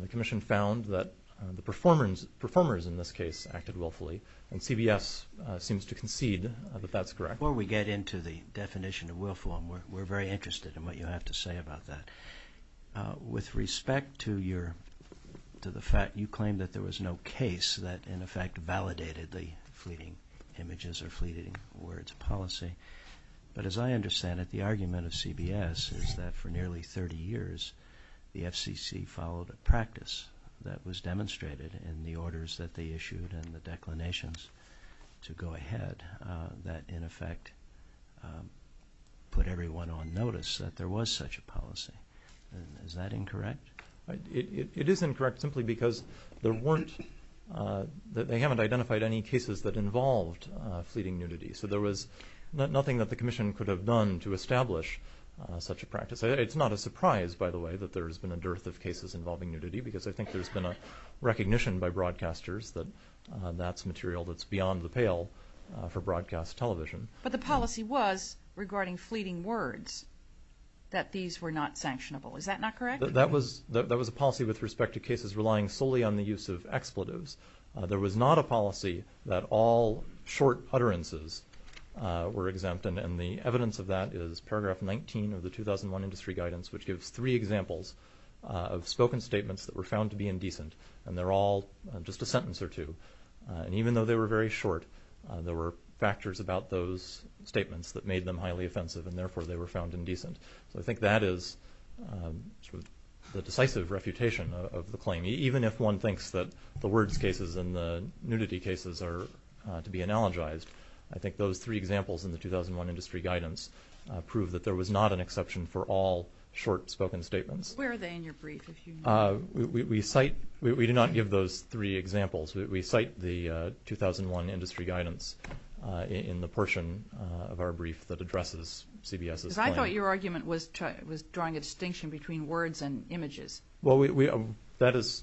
The commission found that the performers in this case acted willfully, and CBS seems to concede that that's correct. Before we get into the definition of willful, we're very interested in what you have to say about that. With respect to the fact you claim that there was no case that in effect validated the fleeting images or fleeting words policy, but as I understand it, the argument of CBS is that for nearly 30 years, the FCC followed a practice that was demonstrated in the orders that they issued and the declinations to go ahead, that in effect put everyone on notice that there was such a policy. Is that incorrect? It is incorrect simply because they haven't identified any cases that involved fleeting nudity. So there was nothing that the commission could have done to establish such a practice. It's not a surprise, by the way, that there has been a dearth of cases involving nudity, because I think there's been a recognition by broadcasters that that's material that's beyond the pale for broadcast television. But the policy was, regarding fleeting words, that these were not sanctionable. Is that not correct? That was a policy with respect to cases relying solely on the use of expletives. There was not a policy that all short utterances were exempt, and the evidence of that is paragraph 19 of the 2001 industry guidance, which gives three examples of spoken statements that were found to be indecent, and they're all just a sentence or two. And even though they were very short, there were factors about those statements that made them highly offensive, and therefore they were found indecent. So I think that is the decisive reputation of the claim. Even if one thinks that the words cases and the nudity cases are to be analogized, I think those three examples in the 2001 industry guidance prove that there was not an exception for all short spoken statements. Where are they in your brief, if you know? We do not give those three examples. We cite the 2001 industry guidance in the portion of our brief that addresses CBS's claim. Because I thought your argument was drawing a distinction between words and images. Well, that is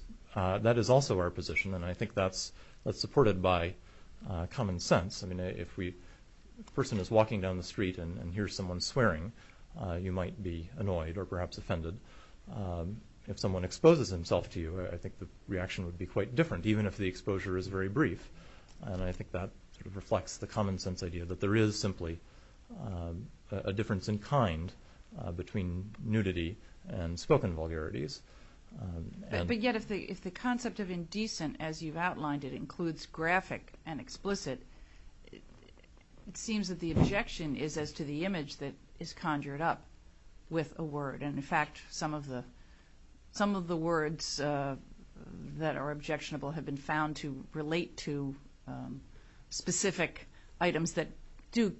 also our position, and I think that's supported by common sense. I mean, if a person is walking down the street and hears someone swearing, you might be annoyed or perhaps offended. If someone exposes himself to you, I think the reaction would be quite different, even if the exposure is very brief. And I think that reflects the common sense idea that there is simply a difference in kind between nudity and spoken vulgarities. But yet, if the concept of indecent, as you've outlined it, includes graphic and explicit, it seems that the objection is as to the image that is conjured up with a word. And in fact, some of the words that are objectionable have been found to relate to specific items that do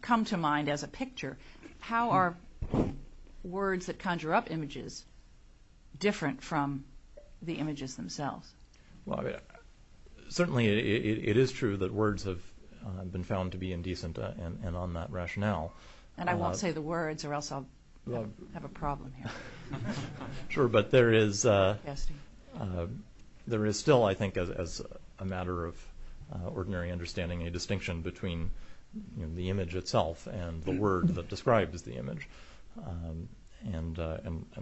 come to mind as a picture. How are words that conjure up images different from the images themselves? Well, certainly it is true that words have been found to be indecent and on that rationale. And I won't say the words or else I'll have a problem here. Sure, but there is still, I think, as a matter of ordinary understanding, a distinction between the image itself and the word that describes the image. And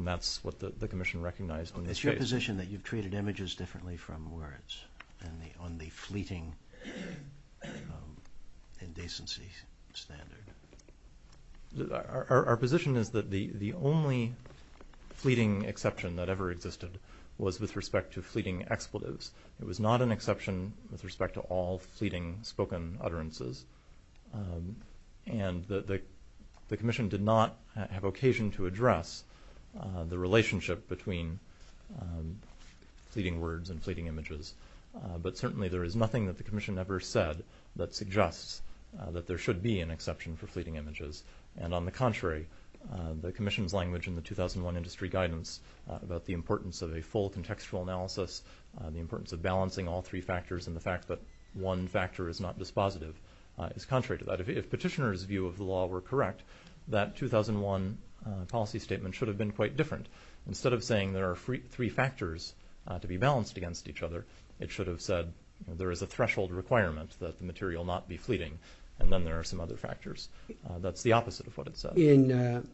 that's what the commission recognized in this case. Is it your position that you've treated images differently from words on the fleeting indecency standard? Our position is that the only fleeting exception that ever existed was with respect to fleeting expletives. It was not an exception with respect to all fleeting spoken utterances. And the commission did not have occasion to address the relationship between fleeting words and fleeting images. But certainly there is nothing that the commission ever said that suggests that there should be an exception for fleeting images. And on the contrary, the commission's language in the 2001 industry guidance about the importance of a full contextual analysis, the importance of balancing all three factors and the fact that one factor is not dispositive is contrary to that. If petitioners' view of the law were correct, that 2001 policy statement should have been quite different. Instead of saying there are three factors to be balanced against each other, it should have said there is a threshold requirement that the material not be fleeting and then there are some other factors. That's the opposite of what it said. In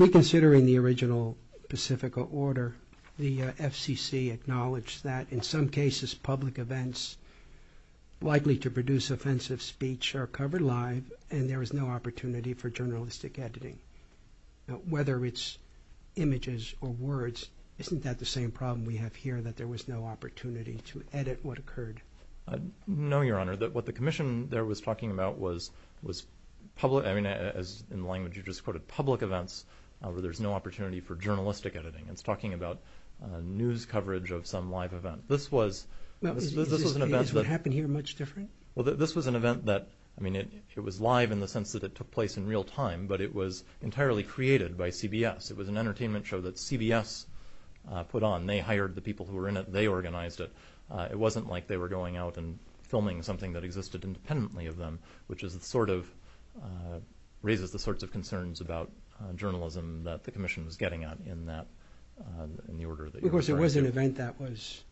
reconsidering the original Pacifica order, the FCC acknowledged that in some cases, public events likely to produce offensive speech are covered live and there is no opportunity for journalistic editing. Whether it's images or words, isn't that the same problem we have here that there was no opportunity to edit what occurred? No, Your Honor. What the commission there was talking about was public events where there's no opportunity for journalistic editing. It's talking about news coverage of some live event. Is what happened here much different? This was an event that was live in the sense that it took place in real time, but it was entirely created by CBS. It was an entertainment show that CBS put on. They hired the people who were in it and they organized it. It wasn't like they were going out and filming something that existed independently of them, which sort of raises the sorts of concerns about journalism that the commission was getting at in the order that you described. Of course, it was an event that was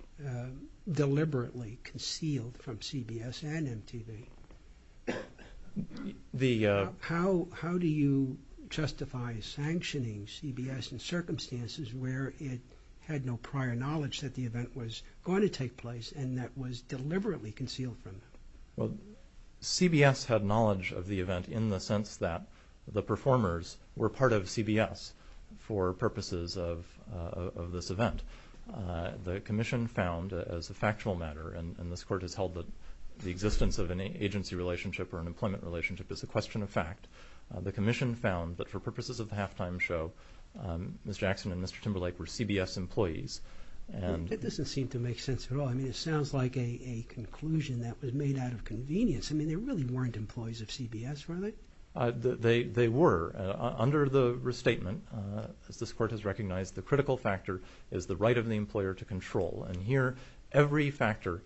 deliberately concealed from CBS and MTV. How do you justify sanctioning CBS in circumstances where it had no prior knowledge that the event was going to take place and that was deliberately concealed from them? CBS had knowledge of the event in the sense that the performers were part of CBS for purposes of this event. The commission found, as a factual matter, and this court has held the existence of an agency relationship or an employment relationship is a question of fact, the commission found that for purposes of the halftime show, Ms. Jackson and Mr. Timberlake were CBS employees. It doesn't seem to make sense at all. It sounds like a conclusion that was made out of convenience. They really weren't employees of CBS, were they? They were. Under the restatement, this court has recognized the critical factor is the right of the employer to control, and here every factor,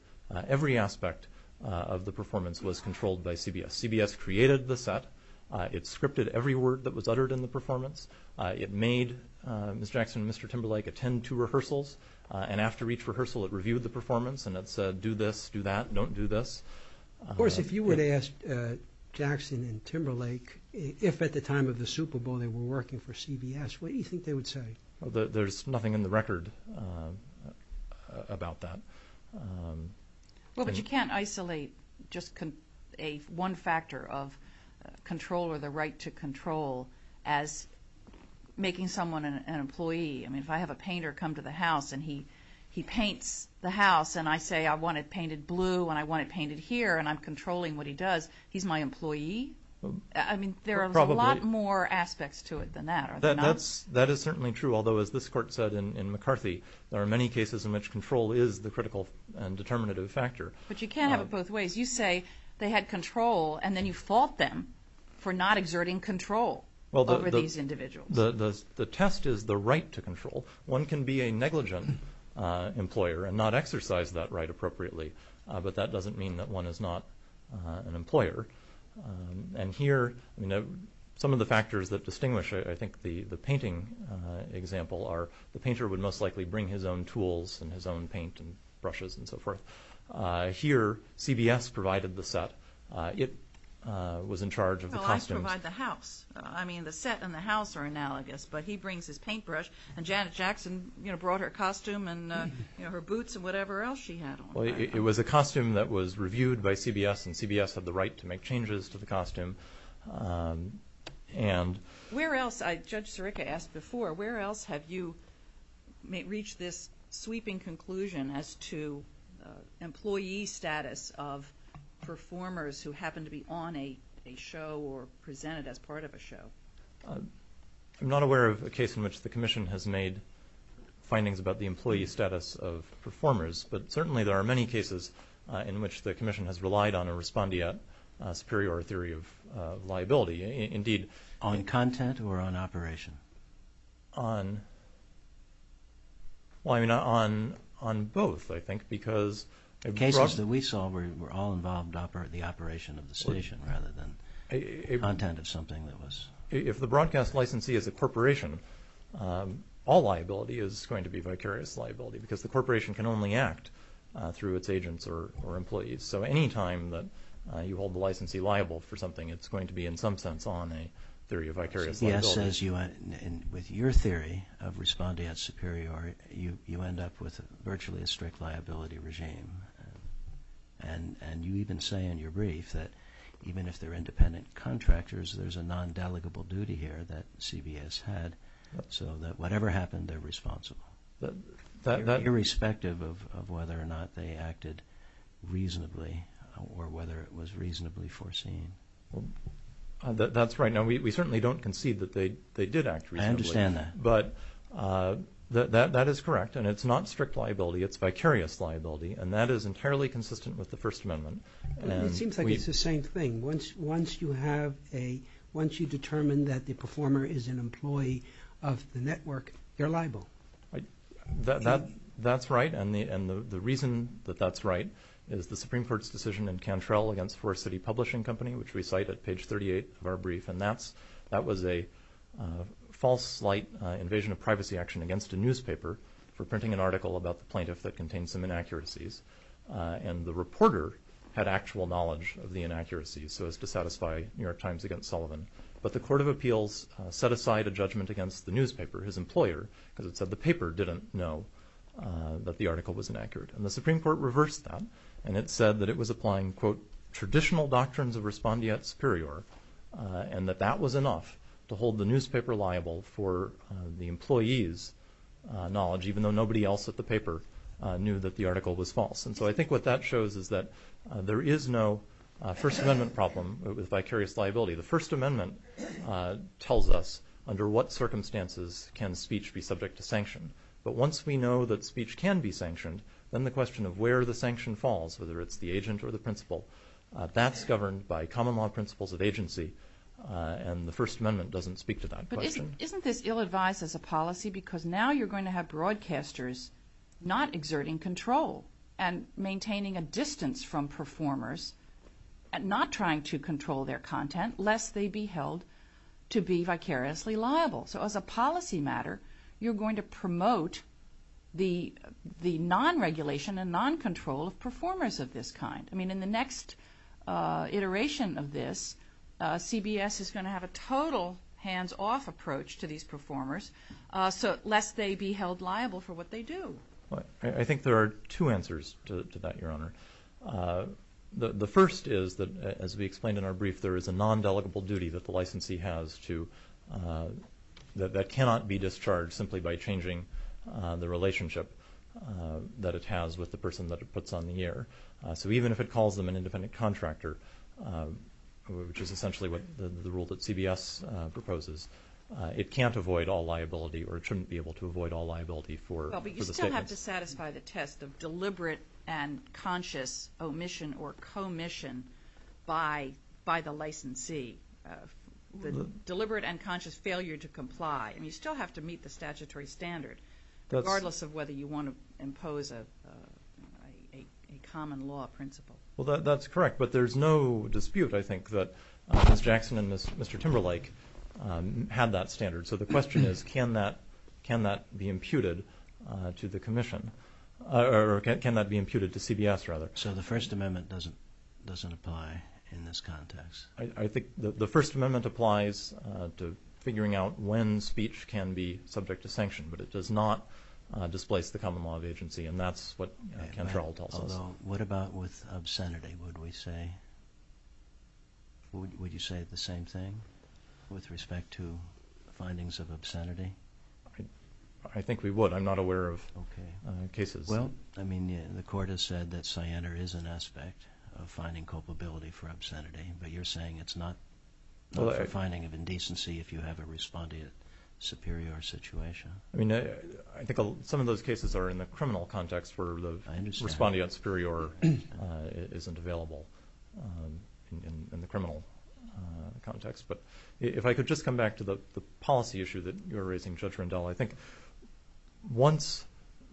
every aspect of the performance was controlled by CBS. CBS created the set. It scripted every word that was uttered in the performance. It made Ms. Jackson and Mr. Timberlake attend two rehearsals, and after each rehearsal it reviewed the performance and it said, do this, do that, don't do this. Of course, if you were to ask Jackson and Timberlake if at the time of the Super Bowl they were working for CBS, what do you think they would say? There's nothing in the record about that. Well, but you can't isolate just one factor of control or the right to control as making someone an employee. I mean, if I have a painter come to the house and he paints the house, and I say I want it painted blue and I want it painted here and I'm controlling what he does, he's my employee. I mean, there are a lot more aspects to it than that. That is certainly true, although as this court said in McCarthy, there are many cases in which control is the critical and determinative factor. But you can't have it both ways. You say they had control and then you fault them for not exerting control over these individuals. The test is the right to control. One can be a negligent employer and not exercise that right appropriately, but that doesn't mean that one is not an employer. And here, some of the factors that distinguish, I think, the painting example are the painter would most likely bring his own tools and his own paint and brushes and so forth. Here, CBS provided the set. It was in charge of the costume. Well, I provide the house. I mean, the set and the house are analogous, but he brings his paintbrush and Janet Jackson brought her costume and her boots and whatever else she had on. It was a costume that was reviewed by CBS and CBS had the right to make changes to the costume. Where else, Judge Sirica asked before, where else have you reached this sweeping conclusion as to employee status of performers who happen to be on a show or presented as part of a show? I'm not aware of a case in which the commission has made findings about the employee status of performers, but certainly there are many cases in which the commission has relied on a respondeat superior theory of liability. Indeed. On content or on operation? On both, I think, because... The cases that we saw were all involved in the operation of the station rather than content. If the broadcast licensee is a corporation, all liability is going to be vicarious liability because the corporation can only act through its agents or employees. So any time that you hold the licensee liable for something, it's going to be in some sense on a theory of vicarious liability. Yes. With your theory of respondeat superior, you end up with virtually a strict liability regime. And you even say in your brief that even if they're independent contractors, there's a non-delegable duty here that CBA has had so that whatever happened, they're responsible. Irrespective of whether or not they acted reasonably or whether it was reasonably foreseen. That's right. Now, we certainly don't concede that they did act reasonably. I understand that. But that is correct, and it's not strict liability. It's vicarious liability, and that is entirely consistent with the First Amendment. It seems like it's the same thing. Once you determine that the performer is an employee of the network, they're liable. That's right. And the reason that that's right is the Supreme Court's decision in Cantrell against Forest City Publishing Company, which we cite at page 38 of our brief, and that was a false light invasion of privacy action against a newspaper for printing an article about the plaintiff that contained some inaccuracies. And the reporter had actual knowledge of the inaccuracies so as to satisfy New York Times against Sullivan. But the Court of Appeals set aside a judgment against the newspaper, his employer, because it said the paper didn't know that the article was inaccurate. And the Supreme Court reversed that, and it said that it was applying, quote, traditional doctrines of respondeat superior, and that that was enough to hold the newspaper liable for the employee's knowledge, even though nobody else at the paper knew that the article was false. And so I think what that shows is that there is no First Amendment problem with vicarious liability. The First Amendment tells us under what circumstances can speech be subject to sanction. But once we know that speech can be sanctioned, then the question of where the sanction falls, whether it's the agent or the principal, that's governed by common law principles of agency, and the First Amendment doesn't speak to that question. Isn't it ill-advised as a policy because now you're going to have broadcasters not exerting control and maintaining a distance from performers, not trying to control their content, lest they be held to be vicariously liable? So as a policy matter, you're going to promote the non-regulation and non-control of performers of this kind. I mean, in the next iteration of this, CBS is going to have a total hands-off approach to these performers, lest they be held liable for what they do. I think there are two answers to that, Your Honor. The first is that, as we explained in our brief, there is a non-delegable duty that the licensee has that cannot be discharged simply by changing the relationship that it has with the person that it puts on the air. So even if it calls them an independent contractor, which is essentially the rule that CBS proposes, it can't avoid all liability or it shouldn't be able to avoid all liability for the performance. You have to satisfy the test of deliberate and conscious omission or commission by the licensee, the deliberate and conscious failure to comply, and you still have to meet the statutory standard, regardless of whether you want to impose a common law principle. Well, that's correct, but there's no dispute, I think, that Mr. Jackson and Mr. Timberlake have that standard. So the question is, can that be imputed to the commission, or can that be imputed to CBS, rather? So the First Amendment doesn't apply in this context? I think the First Amendment applies to figuring out when speech can be subject to sanction, but it does not displace the common law of agency, and that's what Ken Harrell tells us. So what about with obscenity? Would you say the same thing with respect to findings of obscenity? I think we would. I'm not aware of cases. Well, I mean, the court has said that cyanide is an aspect of finding culpability for obscenity, but you're saying it's not a finding of indecency if you have a respondeat superior situation. I think some of those cases are in the criminal context where the respondeat superior isn't available in the criminal context. But if I could just come back to the policy issue that you were raising, Judge Rendell, I think once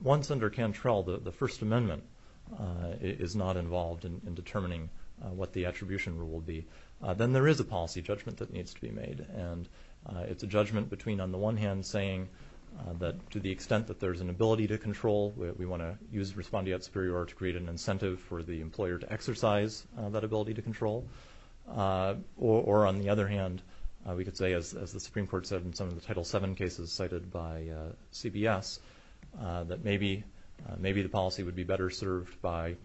under Cantrell the First Amendment is not involved in determining what the attribution rule will be, then there is a policy judgment that needs to be made. And it's a judgment between, on the one hand, saying that to the extent that there's an ability to control, we want to use respondeat superior to create an incentive for the employer to exercise that ability to control, or on the other hand, we could say, as the Supreme Court said in some of the Title VII cases cited by CBS, that maybe the policy would be better served by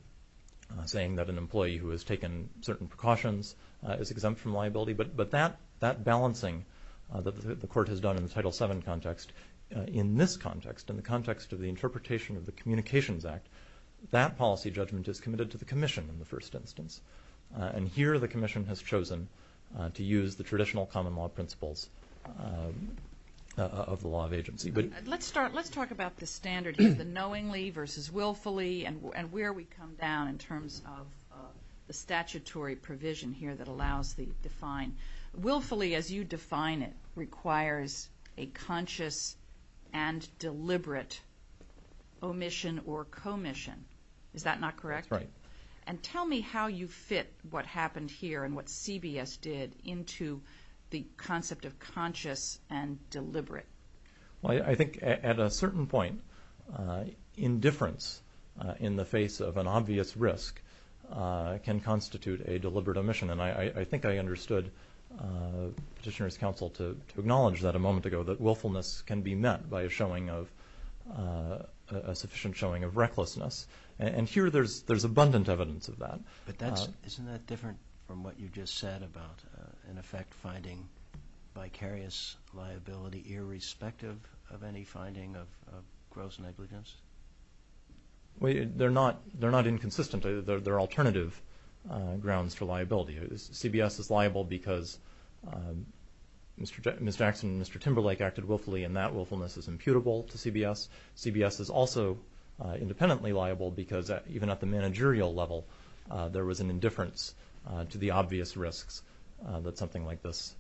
saying that an employee who has taken certain precautions is exempt from liability. But that balancing that the Court has done in the Title VII context, in this context, in the context of the interpretation of the Communications Act, that policy judgment is committed to the Commission in the first instance. And here the Commission has chosen to use the traditional common law principles of the law of agency. Let's talk about the standard here, the knowingly versus willfully, and where we come down in terms of the statutory provision here that allows the defined. Willfully, as you define it, requires a conscious and deliberate omission or commission. Is that not correct? Right. And tell me how you fit what happened here and what CBS did into the concept of conscious and deliberate. Well, I think at a certain point, indifference in the face of an obvious risk can constitute a deliberate omission. And I think I understood Petitioner's counsel to acknowledge that a moment ago, that willfulness can be met by a sufficient showing of recklessness. And here there's abundant evidence of that. But isn't that different from what you just said about, in effect, finding vicarious liability irrespective of any finding of gross negligence? They're not inconsistent. They're alternative grounds for liability. CBS is liable because Ms. Jackson and Mr. Timberlake acted willfully, and that willfulness is imputable to CBS. CBS is also independently liable because even at the managerial level, there was an indifference to the obvious risks that something like this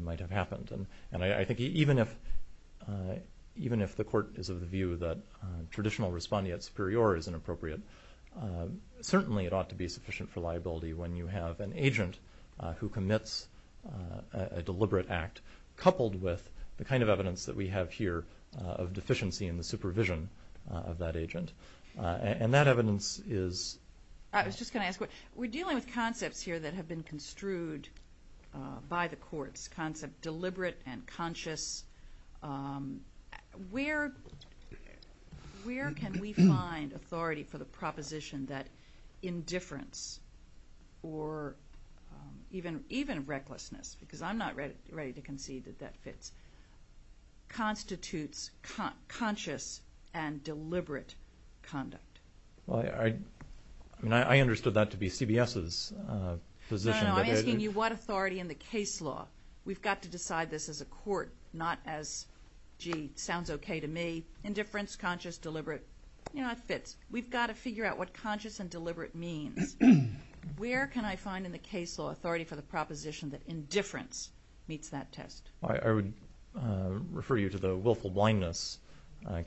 might have happened. And I think even if the court is of the view that traditional respondeat superior is inappropriate, certainly it ought to be sufficient for liability when you have an agent who commits a deliberate act, coupled with the kind of evidence that we have here of deficiency in the supervision of that agent. And that evidence is... I was just going to ask, we're dealing with concepts here that have been construed by the courts, concepts deliberate and conscious. Where can we find authority for the proposition that indifference or even recklessness, because I'm not ready to concede that that fits, constitutes conscious and deliberate conduct? I mean, I understood that to be CBS's position. No, no. I mean, what authority in the case law? We've got to decide this as a court, not as, gee, sounds okay to me. Indifference, conscious, deliberate, you know, it fits. We've got to figure out what conscious and deliberate means. Where can I find in the case law authority for the proposition that indifference meets that test? I would refer you to the willful blindness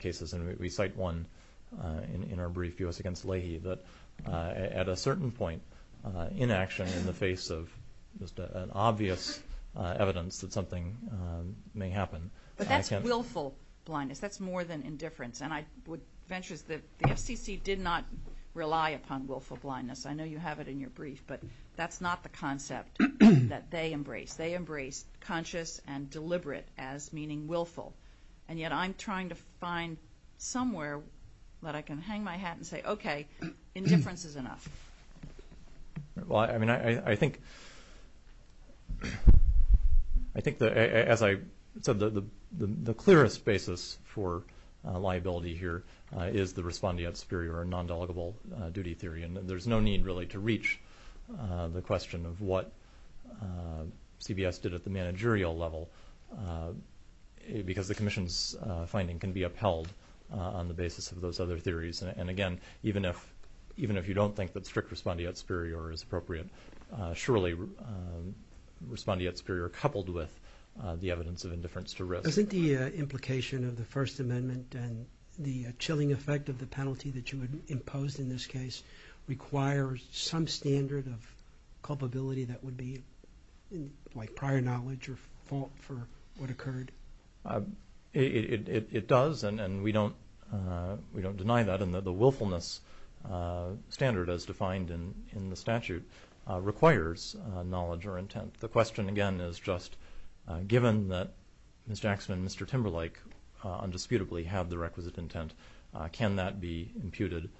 cases. And we cite one in our brief, U.S. Against Leahy, that at a certain point, inaction in the face of just an obvious evidence that something may happen. But that's willful blindness. That's more than indifference. And I would venture that the FCC did not rely upon willful blindness. I know you have it in your brief, but that's not the concept that they embrace. They embrace conscious and deliberate as meaning willful. And yet I'm trying to find somewhere that I can hang my hat and say, okay, indifference is enough. Well, I mean, I think that, as I said, the clearest basis for liability here is the respondeat superior or non-delegable duty theory. And there's no need, really, to reach the question of what CBS did at the managerial level, because the commission's finding can be upheld on the basis of those other theories. And, again, even if you don't think that strict respondeat superior is appropriate, surely respondeat superior coupled with the evidence of indifference to risk. I think the implication of the First Amendment and the chilling effect of the penalty that you imposed in this case requires some standard of culpability that would be prior knowledge or fault for what occurred. It does, and we don't deny that. And the willfulness standard as defined in the statute requires knowledge or intent. The question, again, is just given that Mr. Jackson and Mr. Timberlake undisputably have the requisite intent, can that be imputed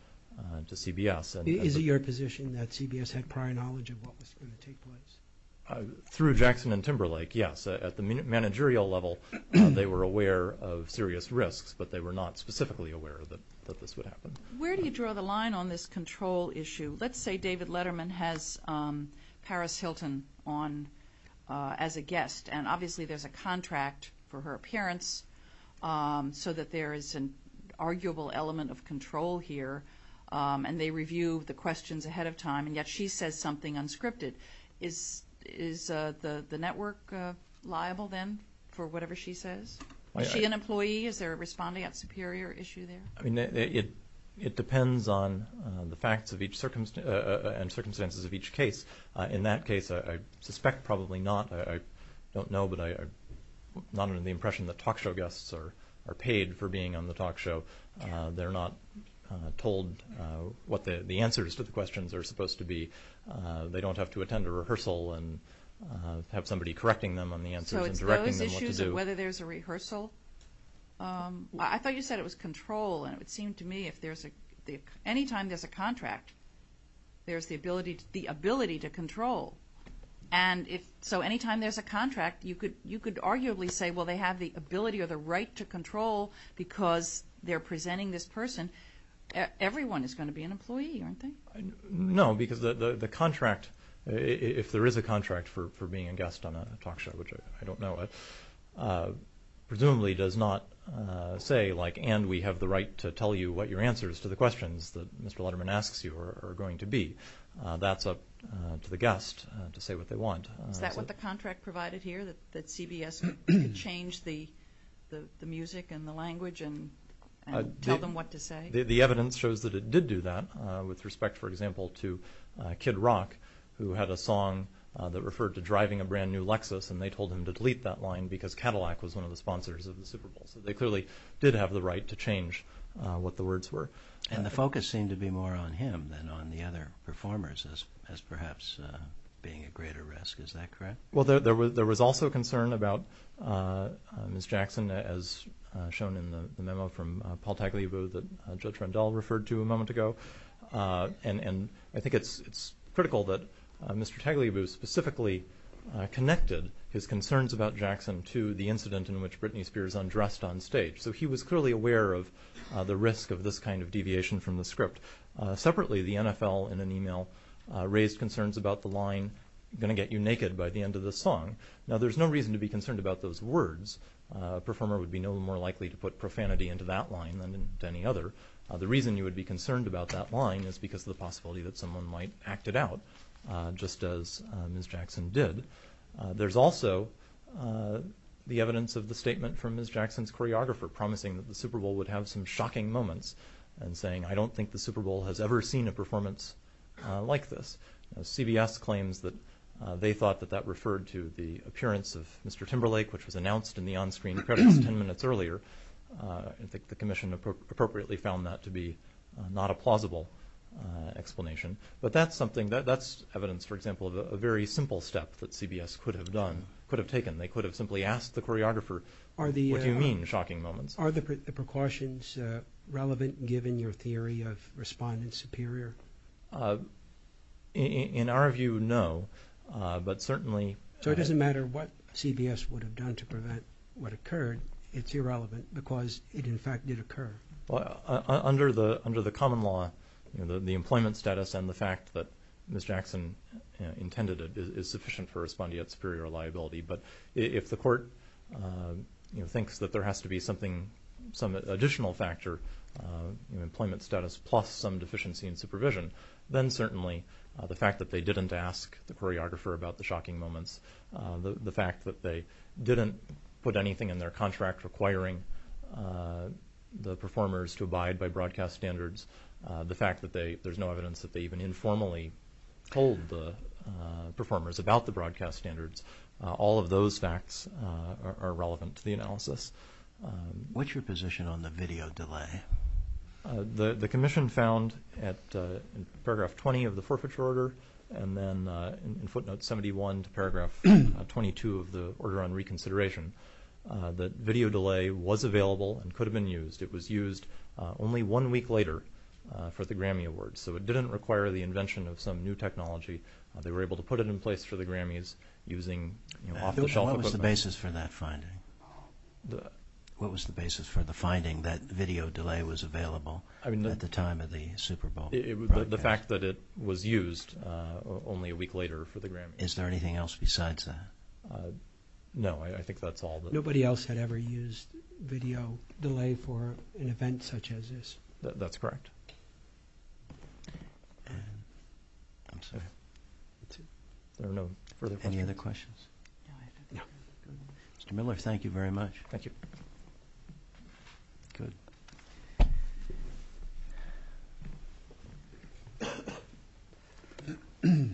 to CBS? Is it your position that CBS had prior knowledge of what was going to take place? Through Jackson and Timberlake, yes. At the managerial level, they were aware of serious risks, but they were not specifically aware that this would happen. Where do you draw the line on this control issue? Let's say David Letterman has Paris Hilton on as a guest, and obviously there's a contract for her appearance so that there is an arguable element of control here, and they review the questions ahead of time, and yet she says something unscripted. Is the network liable then for whatever she says? Is she an employee? Is there a respondeat superior issue there? It depends on the facts and circumstances of each case. In that case, I suspect probably not. I don't know, but I'm not under the impression that talk show guests are paid for being on the talk show. They're not told what the answers to the questions are supposed to be. They don't have to attend a rehearsal and have somebody correcting them on the answers and directing them what to do. Whether there's a rehearsal, I thought you said it was control, and it seemed to me if anytime there's a contract, there's the ability to control. And so anytime there's a contract, you could arguably say, well, they have the ability or the right to control because they're presenting this person. Everyone is going to be an employee, aren't they? No, because the contract, if there is a contract for being a guest on a talk show, which I don't know of, presumably does not say, like, and we have the right to tell you what your answers to the questions that Mr. Letterman asks you are going to be. That's up to the guest to say what they want. Is that what the contract provided here, that CBS could change the music and the language and tell them what to say? The evidence shows that it did do that with respect, for example, to Kid Rock, who had a song that referred to driving a brand-new Lexus, and they told him to delete that line because Cadillac was one of the sponsors of the Super Bowl. So they clearly did have the right to change what the words were. And the focus seemed to be more on him than on the other performers as perhaps being at greater risk. Is that correct? Well, there was also concern about Ms. Jackson, as shown in the memo from Paul Tagliabue that Judge Rendell referred to a moment ago. And I think it's critical that Mr. Tagliabue specifically connected his concerns about Jackson to the incident in which Britney Spears undressed on stage. So he was clearly aware of the risk of this kind of deviation from the script. Separately, the NFL, in an email, raised concerns about the line, I'm going to get you naked by the end of the song. Now, there's no reason to be concerned about those words. A performer would be no more likely to put profanity into that line than into any other. The reason you would be concerned about that line is because of the possibility that someone might act it out, just as Ms. Jackson did. There's also the evidence of the statement from Ms. Jackson's choreographer promising that the Super Bowl would have some shocking moments and saying, I don't think the Super Bowl has ever seen a performance like this. CBS claims that they thought that that referred to the appearance of Mr. Timberlake, which was announced in the on-screen credits ten minutes earlier. The commission appropriately found that to be not a plausible explanation. But that's evidence, for example, of a very simple step that CBS could have taken. They could have simply asked the choreographer, what do you mean, shocking moments? Are the precautions relevant given your theory of responding superior? In our view, no, but certainly... So it doesn't matter what CBS would have done to prevent what occurred. It's irrelevant because it, in fact, did occur. Under the common law, the employment status and the fact that Ms. Jackson intended it is sufficient for responding of superior liability. But if the court thinks that there has to be some additional factor, employment status plus some deficiency in supervision, then certainly the fact that they didn't ask the choreographer about the shocking moments, the fact that they didn't put anything in their contract requiring the performers to abide by broadcast standards, the fact that there's no evidence that they even informally told the performers about the broadcast standards, all of those facts are relevant to the analysis. What's your position on the video delay? The commission found at paragraph 20 of the forfeiture order and then in footnote 71 to paragraph 22 of the order on reconsideration that video delay was available and could have been used. It was used only one week later for the Grammy Awards, so it didn't require the invention of some new technology. They were able to put it in place for the Grammys using off-the-shelf equipment. What was the basis for that finding? What was the basis for the finding that video delay was available at the time of the Super Bowl broadcast? The fact that it was used only a week later for the Grammys. Is there anything else besides that? No, I think that's all. Nobody else had ever used video delay for an event such as this? That's correct. Any other questions? No. Mr. Miller, thank you very much. Thank you. Thank you.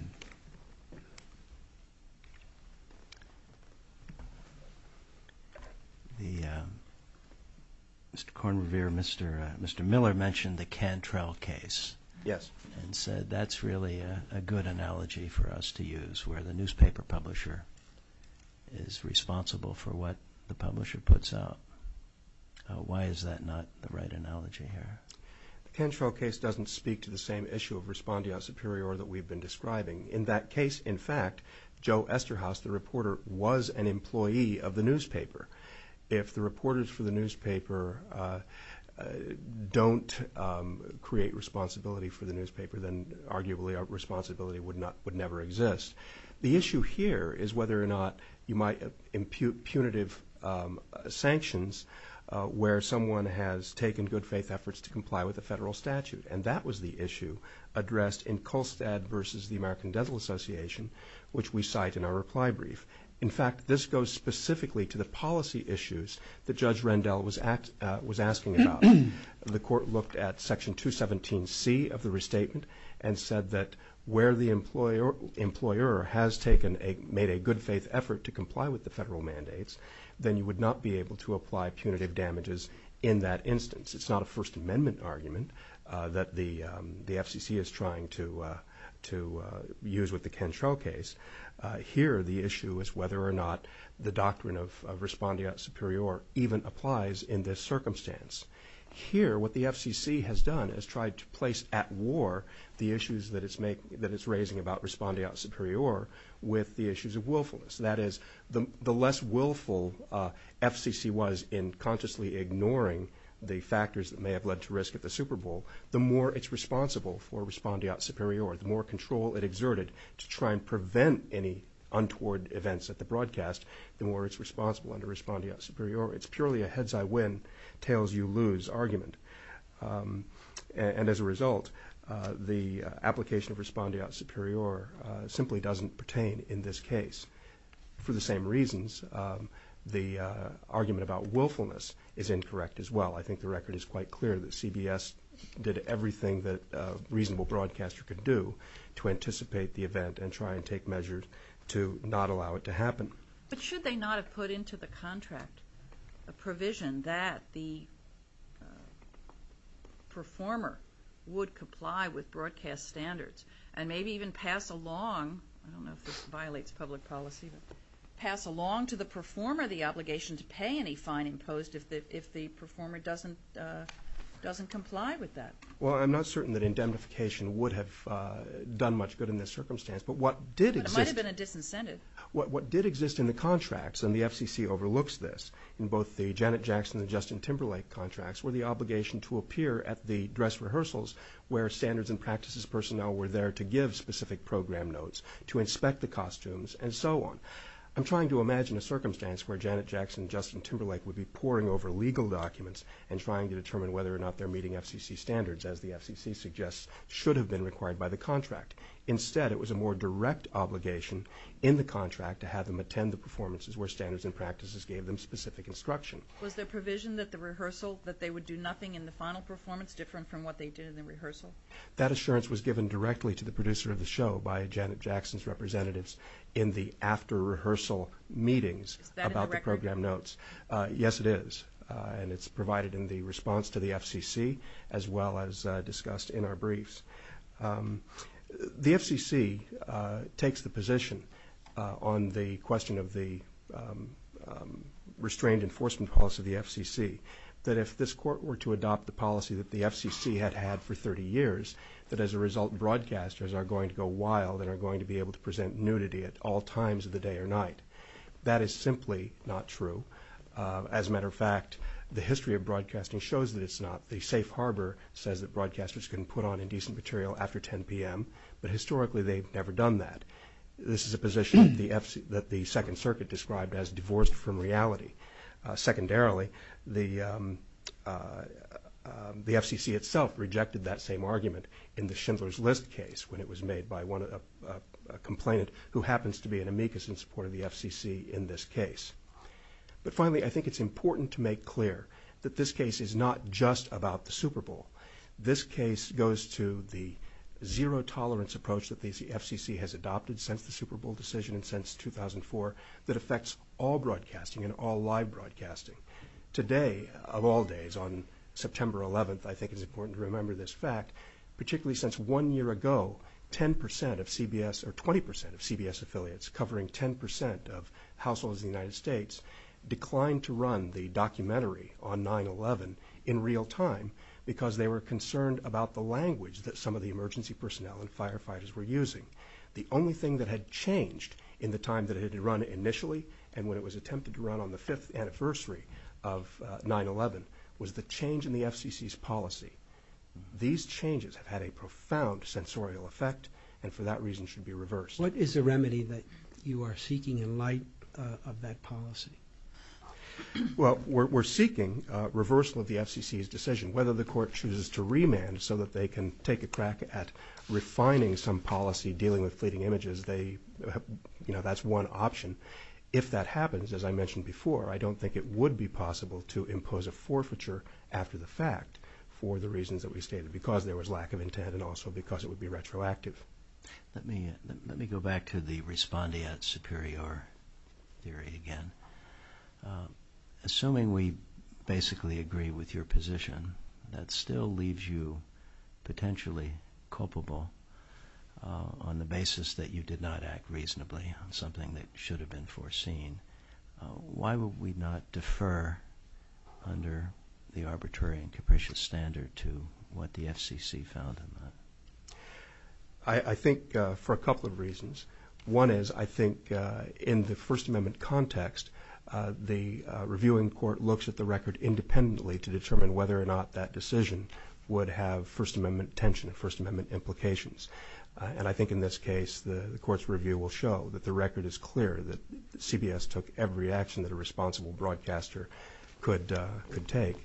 Mr. Kornrever, Mr. Miller mentioned the Cantrell case. Yes. He said that's really a good analogy for us to use where the newspaper publisher is responsible for what the publisher puts out. Why is that not the right analogy here? The Cantrell case doesn't speak to the same issue of respondeo superior that we've been describing. In that case, in fact, Joe Esterhaus, the reporter, was an employee of the newspaper. If the reporters for the newspaper don't create responsibility for the newspaper, then arguably our responsibility would never exist. The issue here is whether or not you might impute punitive sanctions where someone has taken good faith efforts to comply with the federal statute, and that was the issue addressed in Colstad v. The American Dental Association, which we cite in our reply brief. In fact, this goes specifically to the policy issues that Judge Rendell was asking about. The court looked at Section 217C of the restatement and said that where the employer has made a good faith effort to comply with the federal mandates, then you would not be able to apply punitive damages in that instance. It's not a First Amendment argument that the FCC is trying to use with the Cantrell case. Here, the issue is whether or not the doctrine of respondeo superior even applies in this circumstance. Here, what the FCC has done is tried to place at war the issues that it's raising about respondeo superior with the issues of willfulness. That is, the less willful FCC was in consciously ignoring the factors that may have led to risk at the Super Bowl, the more it's responsible for respondeo superior, the more control it exerted to try and prevent any untoward events at the broadcast, the more it's responsible under respondeo superior. It's purely a heads-I-win, tails-you-lose argument. As a result, the application of respondeo superior simply doesn't pertain in this case. For the same reasons, the argument about willfulness is incorrect as well. I think the record is quite clear that CBS did everything that a reasonable broadcaster could do to anticipate the event and try and take measures to not allow it to happen. But should they not have put into the contract a provision that the performer would comply with broadcast standards and maybe even pass along, I don't know if this violates public policy, but pass along to the performer the obligation to pay any fine imposed if the performer doesn't comply with that? Well, I'm not certain that indemnification would have done much good in this circumstance. It might have been a disincentive. What did exist in the contracts, and the FCC overlooks this, in both the Janet Jackson and Justin Timberlake contracts, were the obligation to appear at the dress rehearsals where standards and practices personnel were there to give specific program notes, to inspect the costumes, and so on. I'm trying to imagine a circumstance where Janet Jackson and Justin Timberlake would be poring over legal documents and trying to determine whether or not they're meeting FCC standards, as the FCC suggests should have been required by the contract. Instead, it was a more direct obligation in the contract to have them attend the performances where standards and practices gave them specific instruction. Was the provision that they would do nothing in the final performance different from what they did in the rehearsal? That assurance was given directly to the producer of the show by Janet Jackson's representatives in the after-rehearsal meetings about the program notes. Is that in the record? Yes, it is, and it's provided in the response to the FCC, as well as discussed in our briefs. The FCC takes the position on the question of the restrained enforcement costs of the FCC that if this court were to adopt the policy that the FCC had had for 30 years, that as a result broadcasters are going to go wild and are going to be able to present nudity at all times of the day or night. That is simply not true. As a matter of fact, the history of broadcasting shows that it's not. The safe harbor says that broadcasters can put on indecent material after 10 p.m., but historically they've never done that. This is a position that the Second Circuit described as divorced from reality. Secondarily, the FCC itself rejected that same argument in the Schindler's List case when it was made by a complainant who happens to be an amicus in support of the FCC in this case. But finally, I think it's important to make clear that this case is not just about the Super Bowl. This case goes to the zero-tolerance approach that the FCC has adopted since the Super Bowl decision and since 2004 that affects all broadcasting and all live broadcasting. Today, of all days, on September 11th, I think it's important to remember this fact, particularly since one year ago, 10 percent of CBS – or 20 percent of CBS affiliates covering 10 percent of households in the United States – declined to run the documentary on 9-11 in real time because they were concerned about the language that some of the emergency personnel and firefighters were using. The only thing that had changed in the time that it had run initially and when it was attempted to run on the fifth anniversary of 9-11 was the change in the FCC's policy. These changes have had a profound sensorial effect and for that reason should be reversed. What is the remedy that you are seeking in light of that policy? Well, we're seeking reversal of the FCC's decision. Whether the court chooses to remand so that they can take a crack at refining some policy, dealing with fleeting images, they – you know, that's one option. If that happens, as I mentioned before, I don't think it would be possible to impose a forfeiture after the fact for the reasons that we stated, because there was lack of intent and also because it would be retroactive. Let me go back to the respondeat superior theory again. Assuming we basically agree with your position, that still leaves you potentially culpable on the basis that you did not act reasonably on something that should have been foreseen, why would we not defer under the arbitrary and capricious standard to what the FCC found? I think for a couple of reasons. One is I think in the First Amendment context, the reviewing court looks at the record independently to determine whether or not that decision would have First Amendment intention and First Amendment implications. And I think in this case, the court's review will show that the record is clear, that CBS took every action that a responsible broadcaster could take.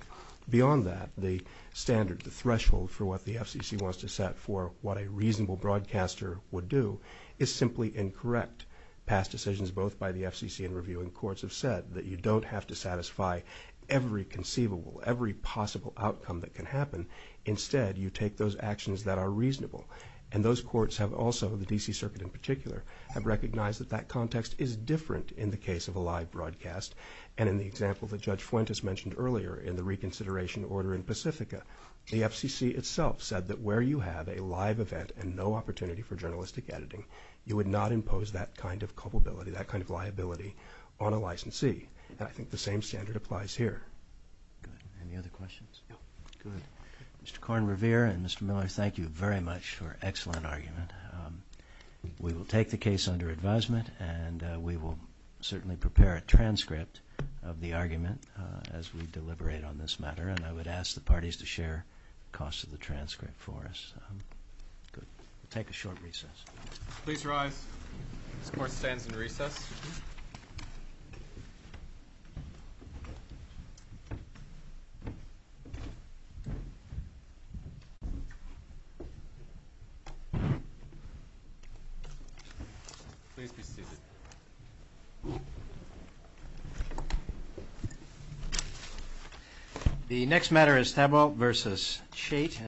Beyond that, the standard, the threshold for what the FCC wants to set for what a reasonable broadcaster would do is simply incorrect. Past decisions both by the FCC and reviewing courts have said that you don't have to satisfy every conceivable, every possible outcome that can happen. Instead, you take those actions that are reasonable. And those courts have also, the D.C. Circuit in particular, have recognized that that context is different in the case of a live broadcast. And in the example that Judge Flint has mentioned earlier in the reconsideration order in Pacifica, the FCC itself said that where you have a live event and no opportunity for journalistic editing, you would not impose that kind of culpability, that kind of liability on a licensee. I think the same standard applies here. Any other questions? Good. Mr. Korn Revere and Mr. Miller, thank you very much for an excellent argument. We will take the case under advisement, and we will certainly prepare a transcript of the argument as we deliberate on this matter. And I would ask the parties to share the cost of the transcript for us. Good. We'll take a short recess. Please rise. Court stands in recess. Thank you, Mr. Chairman.